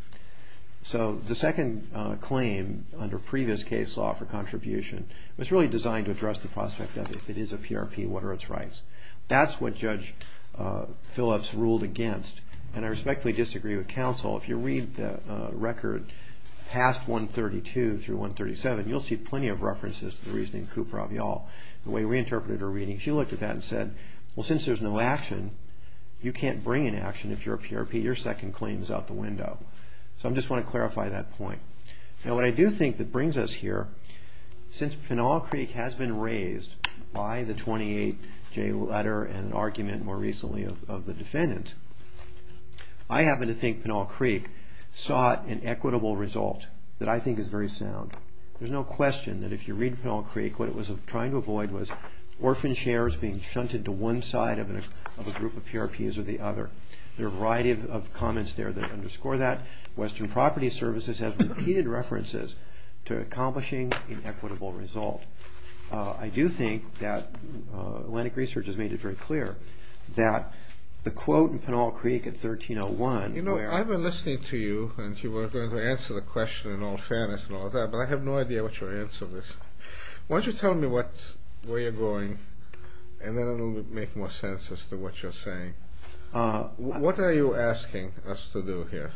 So the second claim under previous case law for contribution was really designed to address the prospect of if it is a PRP, what are its rights? That's what Judge Phillips ruled against, and I respectfully disagree with counsel. If you read the record past 132 through 137, you'll see plenty of references to the reasoning of Cooper-Avial, the way we interpreted her reading. She looked at that and said, well, since there's no action, you can't bring in action if you're a PRP. Your second claim is out the window. So I just want to clarify that point. Now what I do think that brings us here, since Pinal Creek has been raised by the 28-J letter and an argument more recently of the defendants, I happen to think Pinal Creek sought an equitable result that I think is very sound. There's no question that if you read Pinal Creek, what it was trying to avoid was orphan shares being shunted to one side of a group of PRPs or the other. There are a variety of comments there that underscore that. Western Property Services has repeated references to accomplishing an equitable result. I do think that Atlantic Research has made it very clear that the quote in Pinal Creek in 1301... You know, I've been listening to you, and you were going to answer the question in all fairness and all that, but I have no idea what your answer is. Why don't you tell me where you're going, and then it will make more sense as to what you're saying. What are you asking us to do here?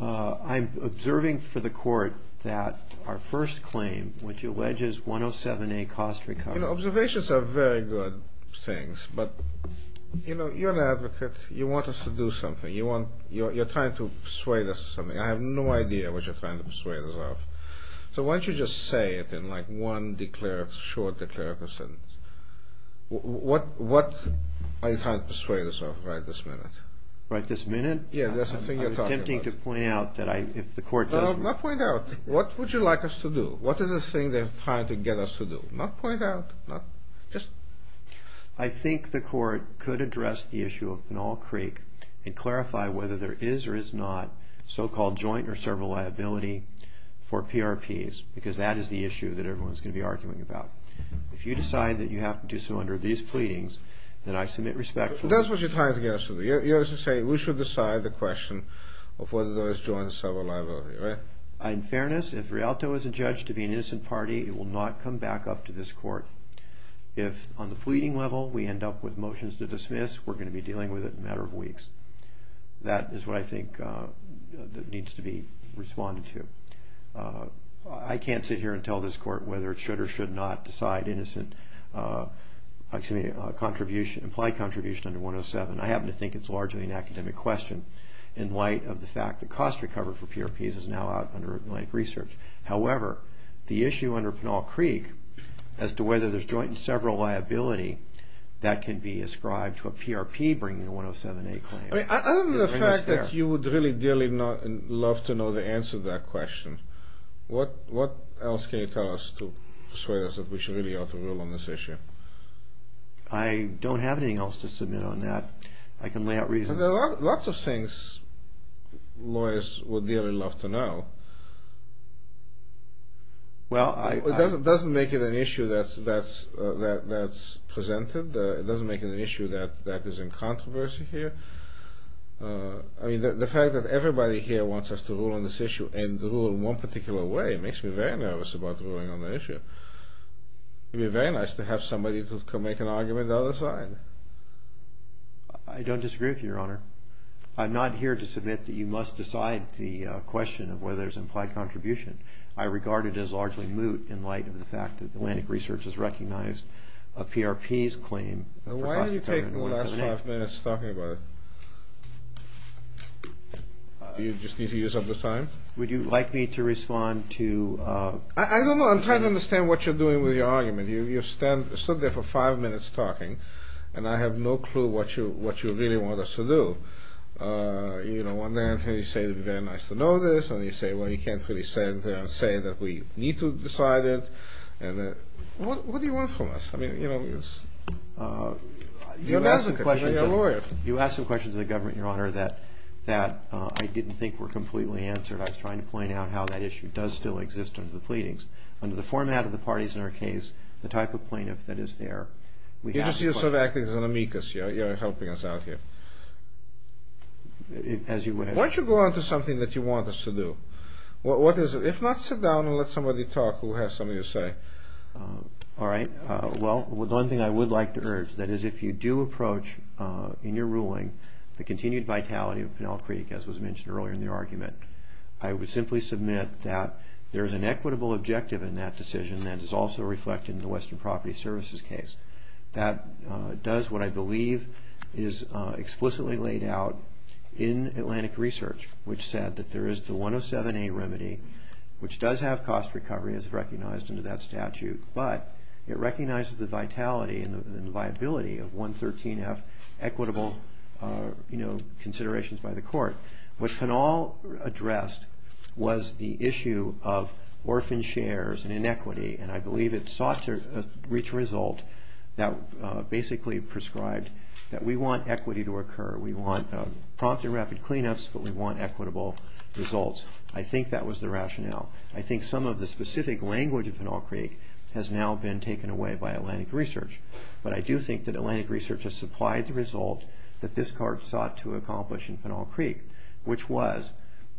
I'm observing for the court that our first claim, which alleges 107A cost recovery... Observations are very good things, but you're an advocate. You want us to do something. You're trying to persuade us of something. I have no idea what you're trying to persuade us of. So why don't you just say it in one short declarative sentence. What are you trying to persuade us of right this minute? Right this minute? Yeah, that's the thing you're talking about. I'm attempting to point out that if the court doesn't... No, not point out. What would you like us to do? What is this thing they're trying to get us to do? Not point out. Just... I think the court could address the issue of Pinal Creek and clarify whether there is or is not so-called joint or several liability for PRPs, because that is the issue that everyone's going to be arguing about. If you decide that you have to do so under these pleadings, then I submit respect for... That's what you're trying to get us to do. You're saying we should decide the question of whether there is joint or several liability, right? In fairness, if Rialto is adjudged to be an innocent party, it will not come back up to this court. If, on the pleading level, we end up with motions to dismiss, we're going to be dealing with it in a matter of weeks. That is what I think needs to be responded to. I can't sit here and tell this court whether it should or should not decide innocent contribution, implied contribution under 107. I happen to think it's largely an academic question in light of the fact that cost recovery for PRPs is now out under Atlantic Research. However, the issue under Pinal Creek as to whether there's joint and several liability, that can be ascribed to a PRP bringing a 107A claim. Other than the fact that you would really dearly love to know the answer to that question, what else can you tell us to persuade us that we should really ought to rule on this issue? I don't have anything else to submit on that. I can lay out reasons. There are lots of things lawyers would really love to know. It doesn't make it an issue that's presented. It doesn't make it an issue that is in controversy here. I mean, the fact that everybody here wants us to rule on this issue and to rule in one particular way makes me very nervous about ruling on the issue. It would be very nice to have somebody who can make an argument on the side. I don't disagree with you, Your Honor. I'm not here to submit that you must decide the question of whether there's implied contribution. I regard it as largely moot in light of the fact that Atlantic Research has recognized a PRP's claim. Why are you taking the last five minutes talking about it? Do you just need to use up the time? Would you like me to respond to… I don't know. I'm trying to understand what you're doing with your argument. You stand there for five minutes talking, and I have no clue what you really want us to do. You know, one day you say it would be very nice to know this, and you say, well, you can't really say that we need to decide it. What do you want from us? You're a lawyer. You asked some questions of the government, Your Honor, that I didn't think were completely answered. I was trying to point out how that issue does still exist under the pleadings. Under the format of the parties in our case, the type of plaintiff that is there… You're just sort of acting as an amicus. You're helping us out here. As you wish. Why don't you go on to something that you want us to do? What is it? If not, sit down and let somebody talk who has something to say. All right. Well, the one thing I would like to urge, that is, if you do approach in your ruling the continued vitality of Pinell Creek, as was mentioned earlier in the argument, I would simply submit that there is an equitable objective in that decision that is also reflected in the Western Property Services case. That does what I believe is explicitly laid out in Atlantic Research, which said that there is the 107A remedy, which does have cost recovery, as recognized under that statute, but it recognizes the vitality and the viability of 113F equitable considerations by the court. What Pinell addressed was the issue of orphan shares and inequity, and I believe it sought to reach a result that basically prescribed that we want equity to occur. We want prompt and rapid cleanups, but we want equitable results. I think that was the rationale. I think some of the specific language of Pinell Creek has now been taken away by Atlantic Research, but I do think that Atlantic Research has supplied the result that this court sought to accomplish in Pinell Creek, which was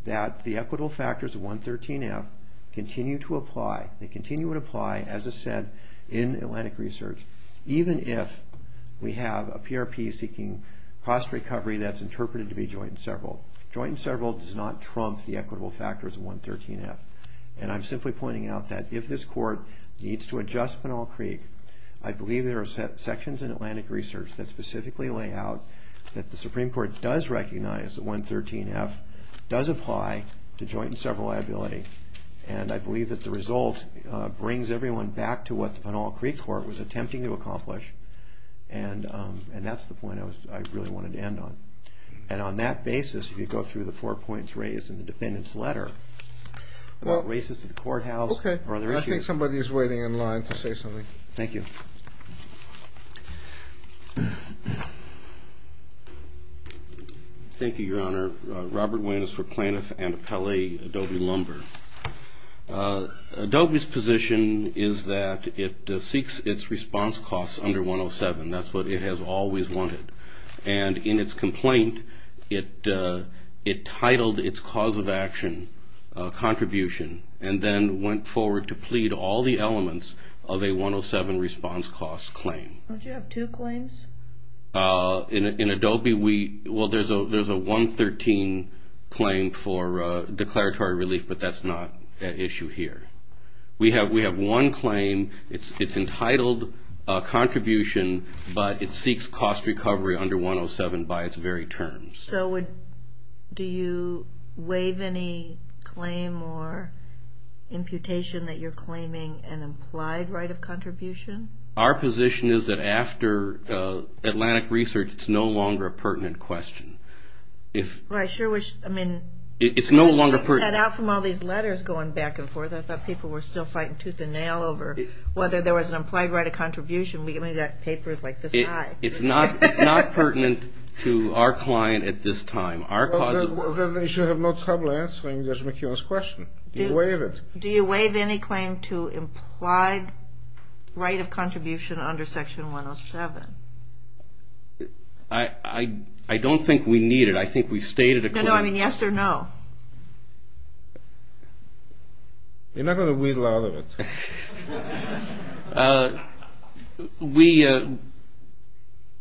that the equitable factors of 113F continue to apply. They continue to apply, as I said, in Atlantic Research, even if we have a PRP seeking cost recovery that's interpreted to be joint and several. Joint and several does not trump the equitable factors of 113F, and I'm simply pointing out that if this court needs to adjust Pinell Creek, I believe there are sections in Atlantic Research that specifically lay out that the Supreme Court does recognize that 113F does apply to joint and several liability, and I believe that the result brings everyone back to what the Pinell Creek court was attempting to accomplish, and that's the point I really wanted to end on. And on that basis, you could go through the four points raised in the defendant's letter about races to the courthouse or other issues. Okay. I think somebody is waiting in line to say something. Thank you. Thank you, Your Honor. Robert Wynn is for Plaintiff and Appellee Adobe Lumber. Adobe's position is that it seeks its response costs under 107. That's what it has always wanted. And in its complaint, it titled its cause of action contribution and then went forward to plead all the elements of a 107 response cost claim. Don't you have two claims? In Adobe, well, there's a 113 claim for declaratory relief, but that's not at issue here. We have one claim. It's entitled contribution, but it seeks cost recovery under 107 by its very terms. So do you waive any claim or imputation that you're claiming an implied right of contribution? Our position is that after Atlantic Research, it's no longer a pertinent question. Well, I sure wish. I mean, it's no longer pertinent. I'm getting that out from all these letters going back and forth. I thought people were still fighting tooth and nail over whether there was an implied right of contribution. We've only got papers like this high. It's not pertinent to our client at this time. Well, then they should have no trouble answering Judge McKeon's question. Do you waive it? Do you waive any claim to implied right of contribution under Section 107? I don't think we need it. I think we've stated a claim. No, no. I mean, yes or no? You're not going to wheedle out of it.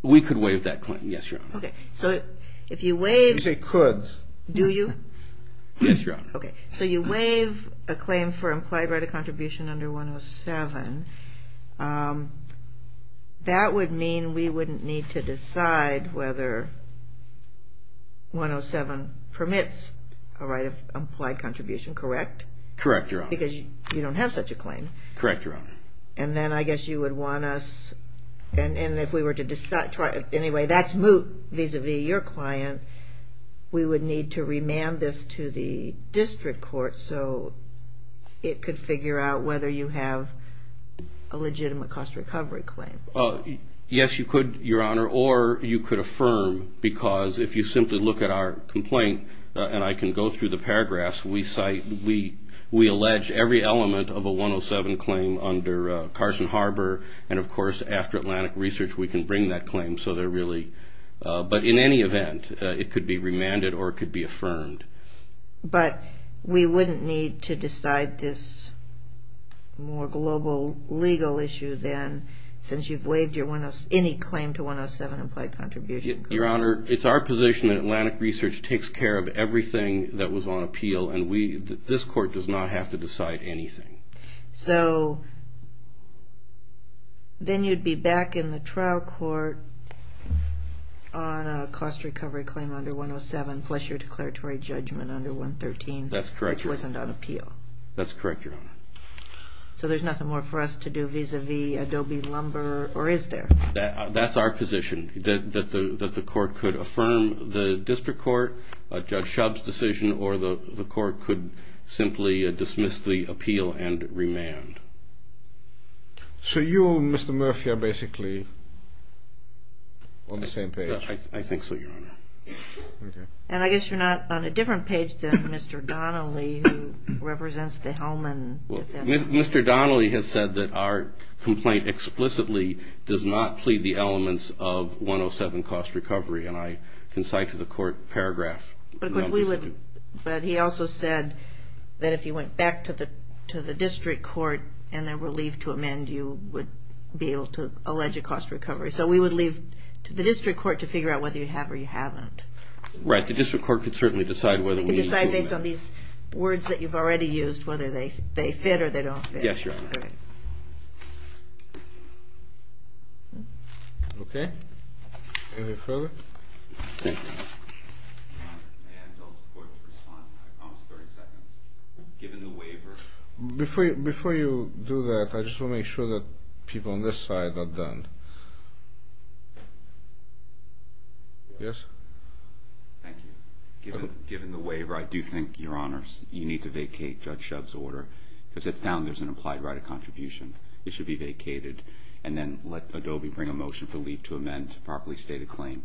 We could waive that claim, yes, Your Honor. Okay. So if you waive. You say could. Do you? Yes, Your Honor. Okay. So you waive a claim for implied right of contribution under 107. That would mean we wouldn't need to decide whether 107 permits a right of implied contribution, correct? Correct, Your Honor. Because you don't have such a claim. Correct, Your Honor. And then I guess you would want us. And if we were to decide. Anyway, that's moot vis-à-vis your client. We would need to remand this to the district court so it could figure out whether you have a legitimate cost recovery claim. Yes, you could, Your Honor. Or you could affirm because if you simply look at our complaint, and I can go through the paragraphs, we allege every element of a 107 claim under Carson Harbor. And, of course, after Atlantic Research we can bring that claim. But in any event, it could be remanded or it could be affirmed. But we wouldn't need to decide this more global legal issue then since you've waived any claim to 107 implied contribution. Your Honor, it's our position that Atlantic Research takes care of everything that was on appeal. And this court does not have to decide anything. So then you'd be back in the trial court on a cost recovery claim under 107 plus your declaratory judgment under 113. That's correct, Your Honor. Which wasn't on appeal. That's correct, Your Honor. So there's nothing more for us to do vis-à-vis Adobe Lumber or is there? That's our position, that the court could affirm the district court, Judge Shub's decision, or the court could simply dismiss the appeal and remand. So you and Mr. Murphy are basically on the same page. I think so, Your Honor. And I guess you're not on a different page than Mr. Donnelly who represents the Hellman. Mr. Donnelly has said that our complaint explicitly does not plead the elements of 107 cost recovery, and I can cite to the court paragraph. But he also said that if you went back to the district court and they were relieved to amend, you would be able to allege a cost recovery. So we would leave to the district court to figure out whether you have or you haven't. Right, the district court could certainly decide whether we need to amend. They could decide based on these words that you've already used, whether they fit or they don't fit. Yes, Your Honor. Okay. Any further? May I tell the court to respond? I promise 30 seconds. Given the waiver. Before you do that, I just want to make sure that people on this side are done. Yes? Thank you. Given the waiver, I do think, Your Honors, you need to vacate Judge Shub's order because it found there's an implied right of contribution. It should be vacated and then let Adobe bring a motion for leave to amend to properly state a claim.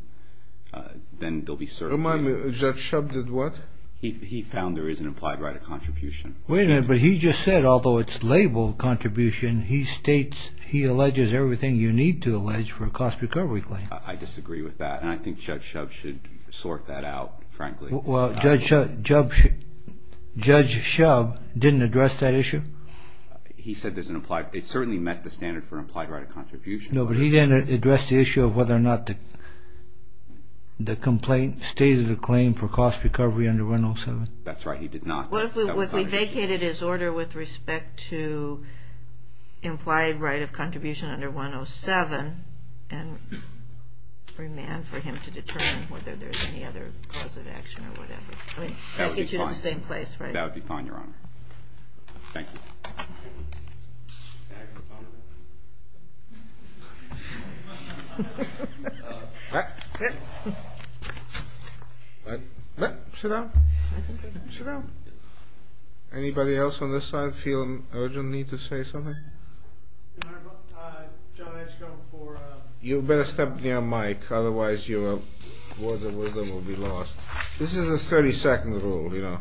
Then there'll be certain reasons. Remind me, Judge Shub did what? He found there is an implied right of contribution. Wait a minute, but he just said, although it's labeled contribution, he states he alleges everything you need to allege for a cost recovery claim. I disagree with that, and I think Judge Shub should sort that out, frankly. Well, Judge Shub didn't address that issue? He said it certainly met the standard for an implied right of contribution. No, but he didn't address the issue of whether or not the complaint stated a claim for cost recovery under 107. That's right. He did not. What if we vacated his order with respect to implied right of contribution under 107 and remand for him to determine whether there's any other cause of action or whatever? I mean, that would get you to the same place, right? That would be fine, Your Honor. Thank you. Sit down. Sit down. Anybody else on this side feel urgent need to say something? Your Honor, John, I just got one more. You better step near Mike, otherwise your words of wisdom will be lost. This is a 30-second rule, you know.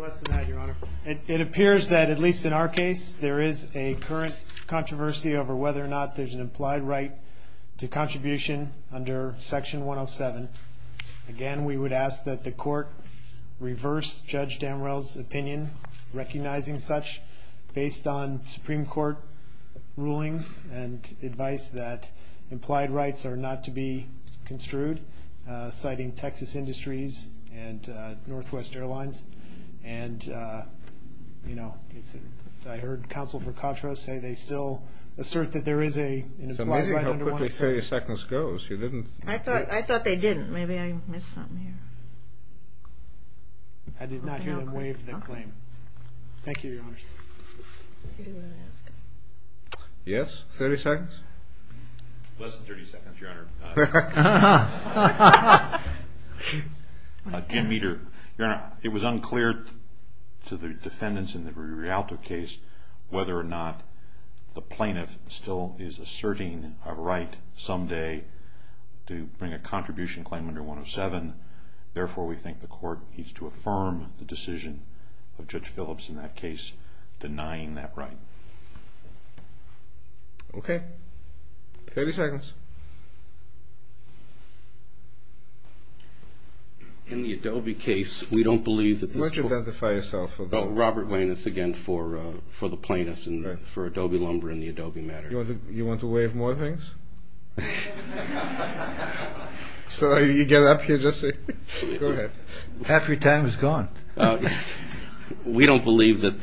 Less than that, Your Honor. It appears that, at least in our case, there is a current controversy over whether or not there's an implied right to contribution under Section 107. Again, we would ask that the court reverse Judge Damrell's opinion, recognizing such based on Supreme Court rulings and advice that implied rights are not to be construed, citing Texas Industries and Northwest Airlines. And, you know, I heard counsel for Contra say they still assert that there is an implied right under 107. So maybe how quickly 30 seconds goes. I thought they didn't. Maybe I missed something here. I did not hear them waive the claim. Thank you, Your Honor. Yes, 30 seconds? Less than 30 seconds, Your Honor. Jim Meeder, Your Honor, it was unclear to the defendants in the Rialto case whether or not the plaintiff still is asserting a right someday to bring a contribution claim under 107. Therefore, we think the court needs to affirm the decision of Judge Phillips in that case denying that right. Okay. 30 seconds. In the Adobe case, we don't believe that this court Why don't you identify yourself? Robert Wayne. It's again for the plaintiffs and for Adobe Lumber and the Adobe matter. You want to waive more things? So you get up here just to say, go ahead. Half your time is gone. We don't believe that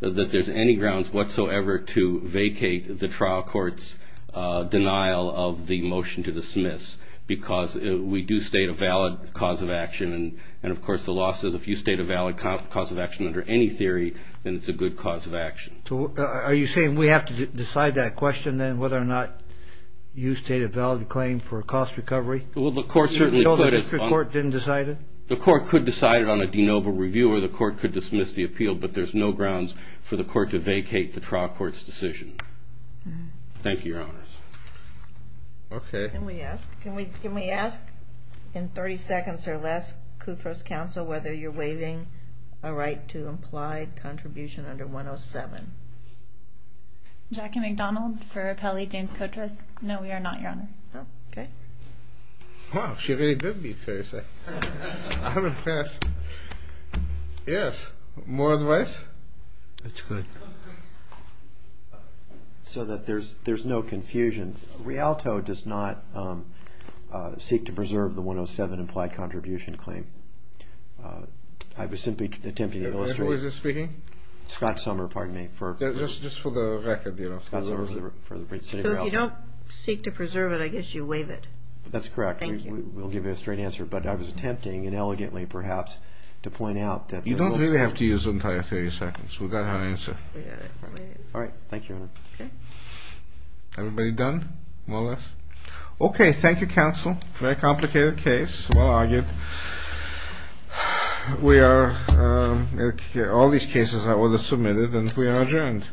there's any grounds whatsoever to vacate the trial court's denial of the motion to dismiss because we do state a valid cause of action. And, of course, the law says if you state a valid cause of action under any theory, then it's a good cause of action. Are you saying we have to decide that question then, whether or not you state a valid claim for a cost recovery? Well, the court certainly could. You know the district court didn't decide it? The court could decide it on a de novo review or the court could dismiss the appeal, but there's no grounds for the court to vacate the trial court's decision. Thank you, Your Honors. Okay. Can we ask in 30 seconds or less, Kutra's counsel, whether you're waiving a right to implied contribution under 107? Jackie McDonald for Appellee James Kutra. No, we are not, Your Honor. Oh, okay. Wow, she really did beat 30 seconds. I'm impressed. Yes. More advice? That's good. So that there's no confusion, Rialto does not seek to preserve the 107 implied contribution claim. I was simply attempting to illustrate. Who is this speaking? Scott Sommer, pardon me. Just for the record, you know. Scott Sommer for the city of Rialto. If you don't seek to preserve it, I guess you waive it. That's correct. Thank you. We'll give you a straight answer, but I was attempting, and elegantly perhaps, to point out that. You don't really have to use the entire 30 seconds. We got our answer. We got it. All right. Thank you, Your Honor. Okay. Everybody done? More or less? Okay. Thank you, counsel. Very complicated case. Well argued. We are, all these cases are submitted and we are adjourned.